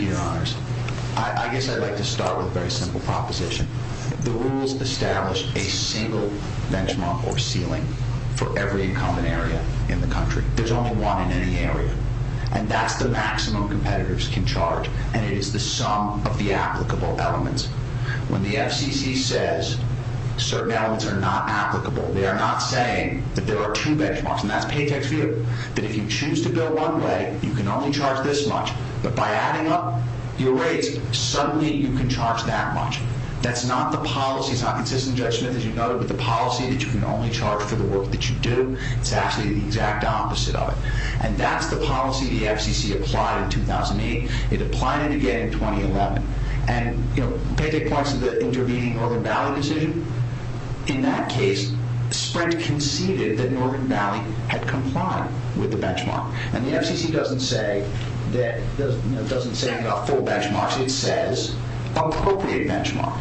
you your honors I guess I'd like to start with a very simple proposition The rules establish A single benchmark or ceiling For every common area In the country There's only one in any area And that's the maximum competitors can charge And it is the sum of the applicable elements When the FCC says Certain elements are not applicable They are not saying That there are two benchmarks And that's paytech's view That if you choose to bill one way You can only charge this much But by adding up your rates Suddenly you can charge that much That's not the policy It's not consistent judgment as you know With the policy that you can only charge For the work that you do It's actually the exact opposite of it And that's the policy the FCC applied in 2008 It applied it again in 2011 And you know Paytech points to the intervening Northern Valley decision In that case Sprint conceded that Northern Valley Had complied with the benchmark And the FCC doesn't say That Doesn't say about full benchmarks It says appropriate benchmark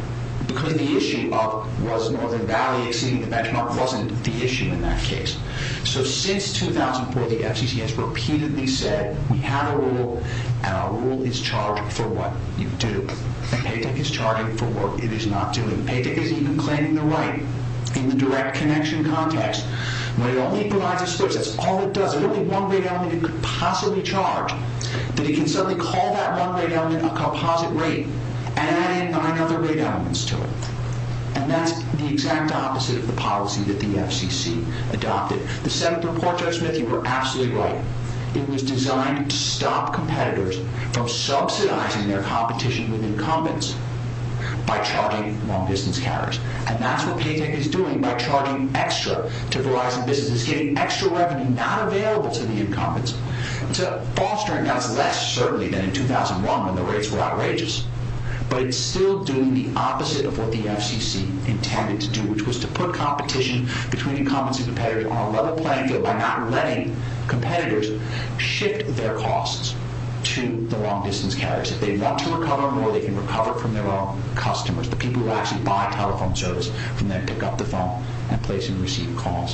Because the issue of Was Northern Valley exceeding the benchmark Wasn't the issue in that case So since 2004 the FCC has repeatedly said We have a rule And our rule is charged for what you do And paytech is charging For what it is not doing Paytech isn't even claiming the right In the direct connection context When it only provides a split That's all it does There's only one rate element it could possibly charge That it can suddenly call that one rate element A composite rate And add in nine other rate elements to it And that's the exact opposite Of the policy that the FCC adopted The seventh report, Judge Smith You were absolutely right It was designed to stop competitors From subsidizing their competition With incumbents By charging long distance carriers And that's what paytech is doing By charging extra to Verizon businesses Giving extra revenue not available to the incumbents So fostering That's less certainly than in 2001 When the rates were outrageous But it's still doing the opposite of what the FCC Intended to do Which was to put competition between incumbents And competitors on a level playing field By not letting competitors Shift their costs To the long distance carriers If they want to recover more they can recover from their own customers The people who actually buy telephone service And then pick up the phone And place and receive calls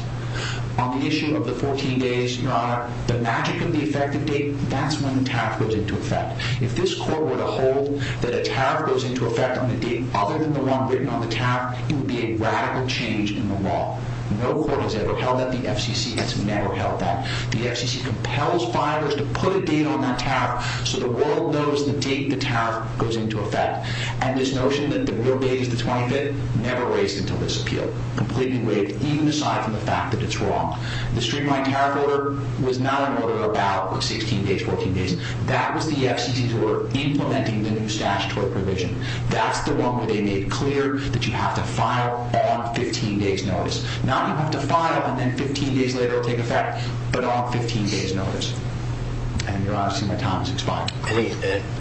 On the issue of the 14 days, your honor The magic of the effective date That's when the tariff goes into effect If this court were to hold that a tariff Goes into effect on the date Other than the one written on the tariff It would be a radical change in the law No court has ever held that The FCC has never held that The FCC compels buyers to put a date on that tariff So the world knows the date the tariff Goes into effect And this notion that the real date is the 25th Never raised until this appeal Completely waived, even aside from the fact that it's wrong The streamlined tariff order Was not an order about 16 days, 14 days That was the FCC's order Implementing the new statutory provision That's the one where they made clear That you have to file on 15 days notice Not you have to file And then 15 days later it will take effect But on 15 days notice And your honor, see my time has expired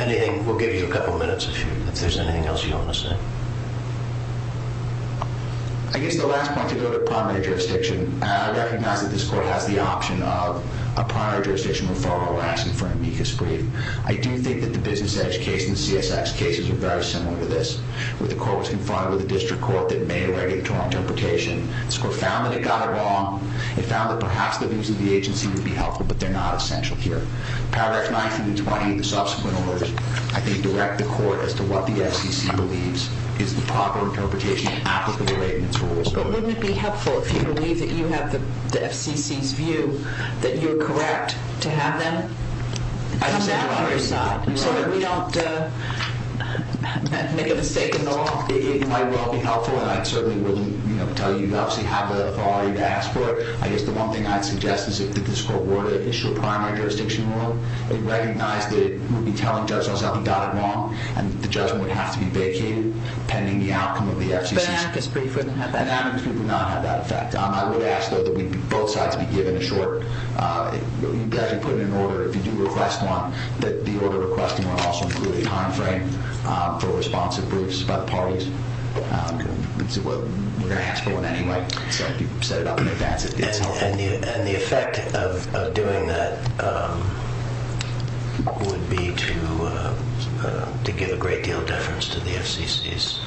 Anything, we'll give you a couple minutes If there's anything else you want to say I guess the last point to go to On the primary jurisdiction And I recognize that this court has the option of A primary jurisdiction referral action For an amicus brief I do think that the business edge case and the CSX cases Are very similar to this Where the court was confronted with a district court That made a regulatory interpretation This court found that it got it wrong It found that perhaps the views of the agency would be helpful But they're not essential here Paragraph 19 and 20 and the subsequent orders I think direct the court as to what the FCC believes Is the proper interpretation For the agency But wouldn't it be helpful If you believe that you have the FCC's view That you're correct to have them Come back on your side So that we don't Make a mistake at all It might well be helpful And I certainly wouldn't tell you You obviously have the authority to ask for it I guess the one thing I'd suggest Is if this court were to issue a primary jurisdiction rule And recognize that it would be telling judge That something got it wrong And the judgment would have to be vacated Pending the outcome of the FCC's An amicus brief wouldn't have that effect An amicus brief would not have that effect I would ask though that both sides be given a short You guys would put in an order If you do request one That the order requesting would also include a time frame For responsive briefs by the parties We're going to ask for one anyway So if you set it up in advance It's helpful And the effect of doing that Would be to To give a great deal of deference To the FCC's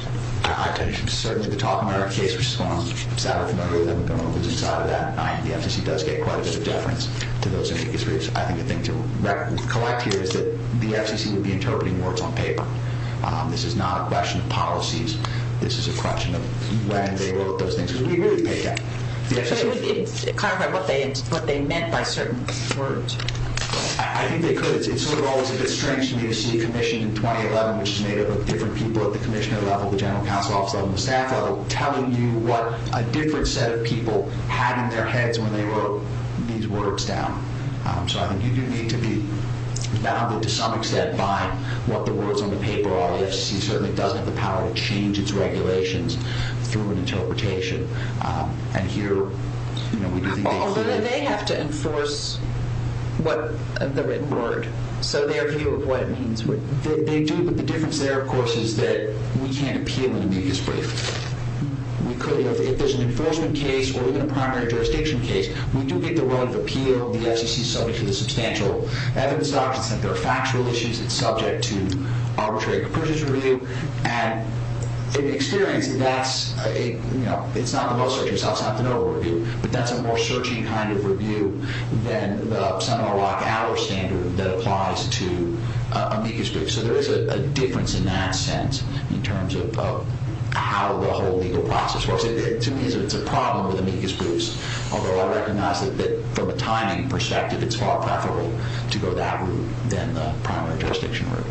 Certainly to talk about our case Which is going on Saturday The FCC does get quite a bit of Deference to those amicus briefs I think the thing to collect here Is that the FCC would be interpreting words on paper This is not a question of Policies, this is a question of When they wrote those things So it would clarify What they meant by certain words I think they could It's sort of always a bit strange to me To see a commission in 2011 Which is made up of different people at the commissioner level The general counsel level, the staff level Telling you what a different set of people Had in their heads when they wrote These words down So I think you do need to be Bounded to some extent by What the words on the paper are The FCC certainly doesn't have the power to change its regulations Through an interpretation And here Although they may have to enforce What the written word So their view of what it means They do, but the difference there of course Is that we can't appeal an amicus brief We could If there's an enforcement case Or even a primary jurisdiction case We do get the right of appeal The FCC is subject to the substantial evidence documents There are factual issues, it's subject to Arbitrary purchase review And in experience That's a, you know, it's not the most Searching, it's not the noble review But that's a more searching kind of review Than the Standard that applies to Amicus briefs So there is a difference in that sense In terms of how the whole Legal process works It's a problem with amicus briefs Although I recognize that from a timing perspective It's far preferable to go that route Than the primary jurisdiction route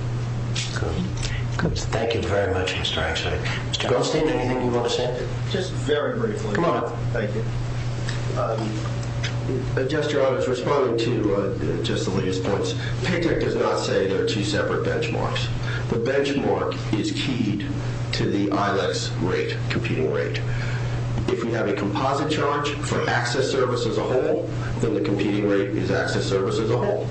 Thank you very much Mr. Einstein Mr. Goldstein, anything you want to say Just very briefly Thank you A gesture I was responding to Just the latest points Paytech does not say there are two separate benchmarks The benchmark is keyed To the ILAC's rate Competing rate If we have a composite charge For access service as a whole Then the competing rate is access service as a whole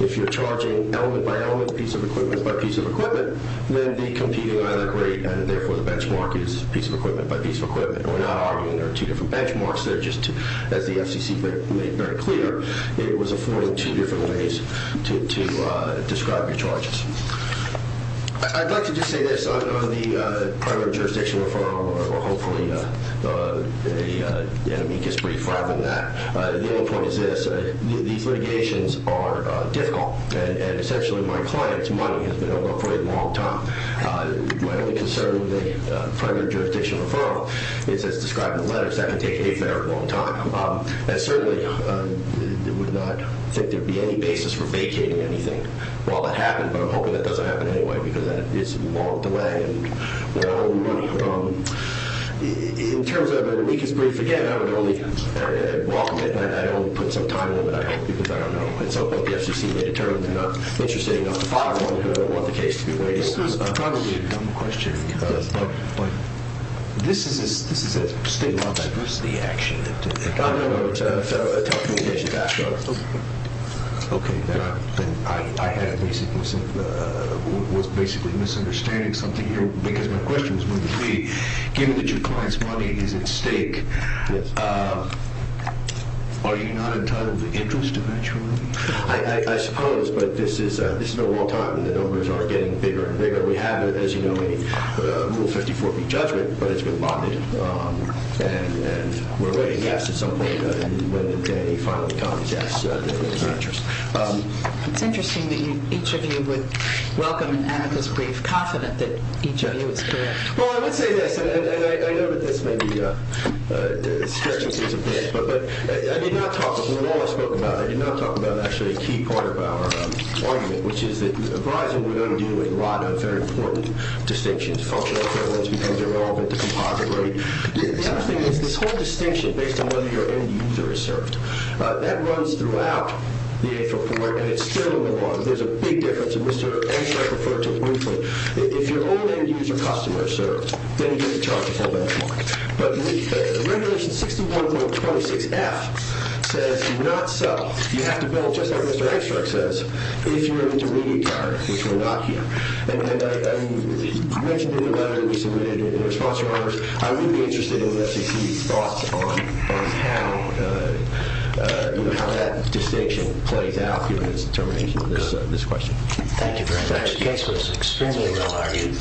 If you're charging element by element Piece of equipment by piece of equipment Then the competing ILAC rate And therefore the benchmark is piece of equipment by piece of equipment And we're not arguing there are two different benchmarks They're just As the FCC made very clear It was afforded two different ways To describe your charges I'd like to just say this On the primary jurisdiction referral Or hopefully The amicus brief Rather than that The only point is this These litigations are difficult And essentially my client's money Has been over for a long time My only concern with the Primary jurisdiction referral Is as described in the letters that can take a fair long time And certainly I would not think there would be any Basis for vacating anything While that happened but I'm hoping that doesn't happen anyway Because then it's a long delay And more money In terms of the amicus brief Again I would only Put some time limit Because I don't know If the FCC made a Determined they're not interested enough to file I don't want the case to be waited This is a state law Diversity action I know It's a federal Okay Then I had Basically Misunderstanding something here Because my question was going to be Given that your client's money is at stake Are you not entitled To move interest eventually I suppose but this is A long time and the numbers are getting bigger and bigger We have as you know Rule 54B judgment but it's been Bonded And we're waiting When the day finally comes It's interesting That each of you would Welcome an amicus brief confident That each of you is correct Well I would say this And I know that this may be Stretches this a bit I did not talk about Actually a key part of our Argument which is that Verizon We're going to do a lot of very important Distinctions Because they're all The other thing is this whole distinction Based on whether your end user is served That runs throughout And it's still a long There's a big difference If your old end user Customer serves Then you get a charge But the regulation 61.26F Says do not sell You have to bill just like Mr. Ekstrak says If you're an intermediate card Which we're not here You mentioned in the letter I would be interested In the FCC's thoughts on How That distinction plays out Given its determination Thank you very much This case was extremely well argued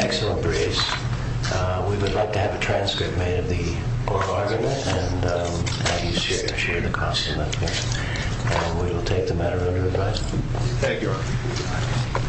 Excellent briefs We would like to have a transcript made Of the oral argument And have you share the cost of it And we will take the matter Under advice Thank you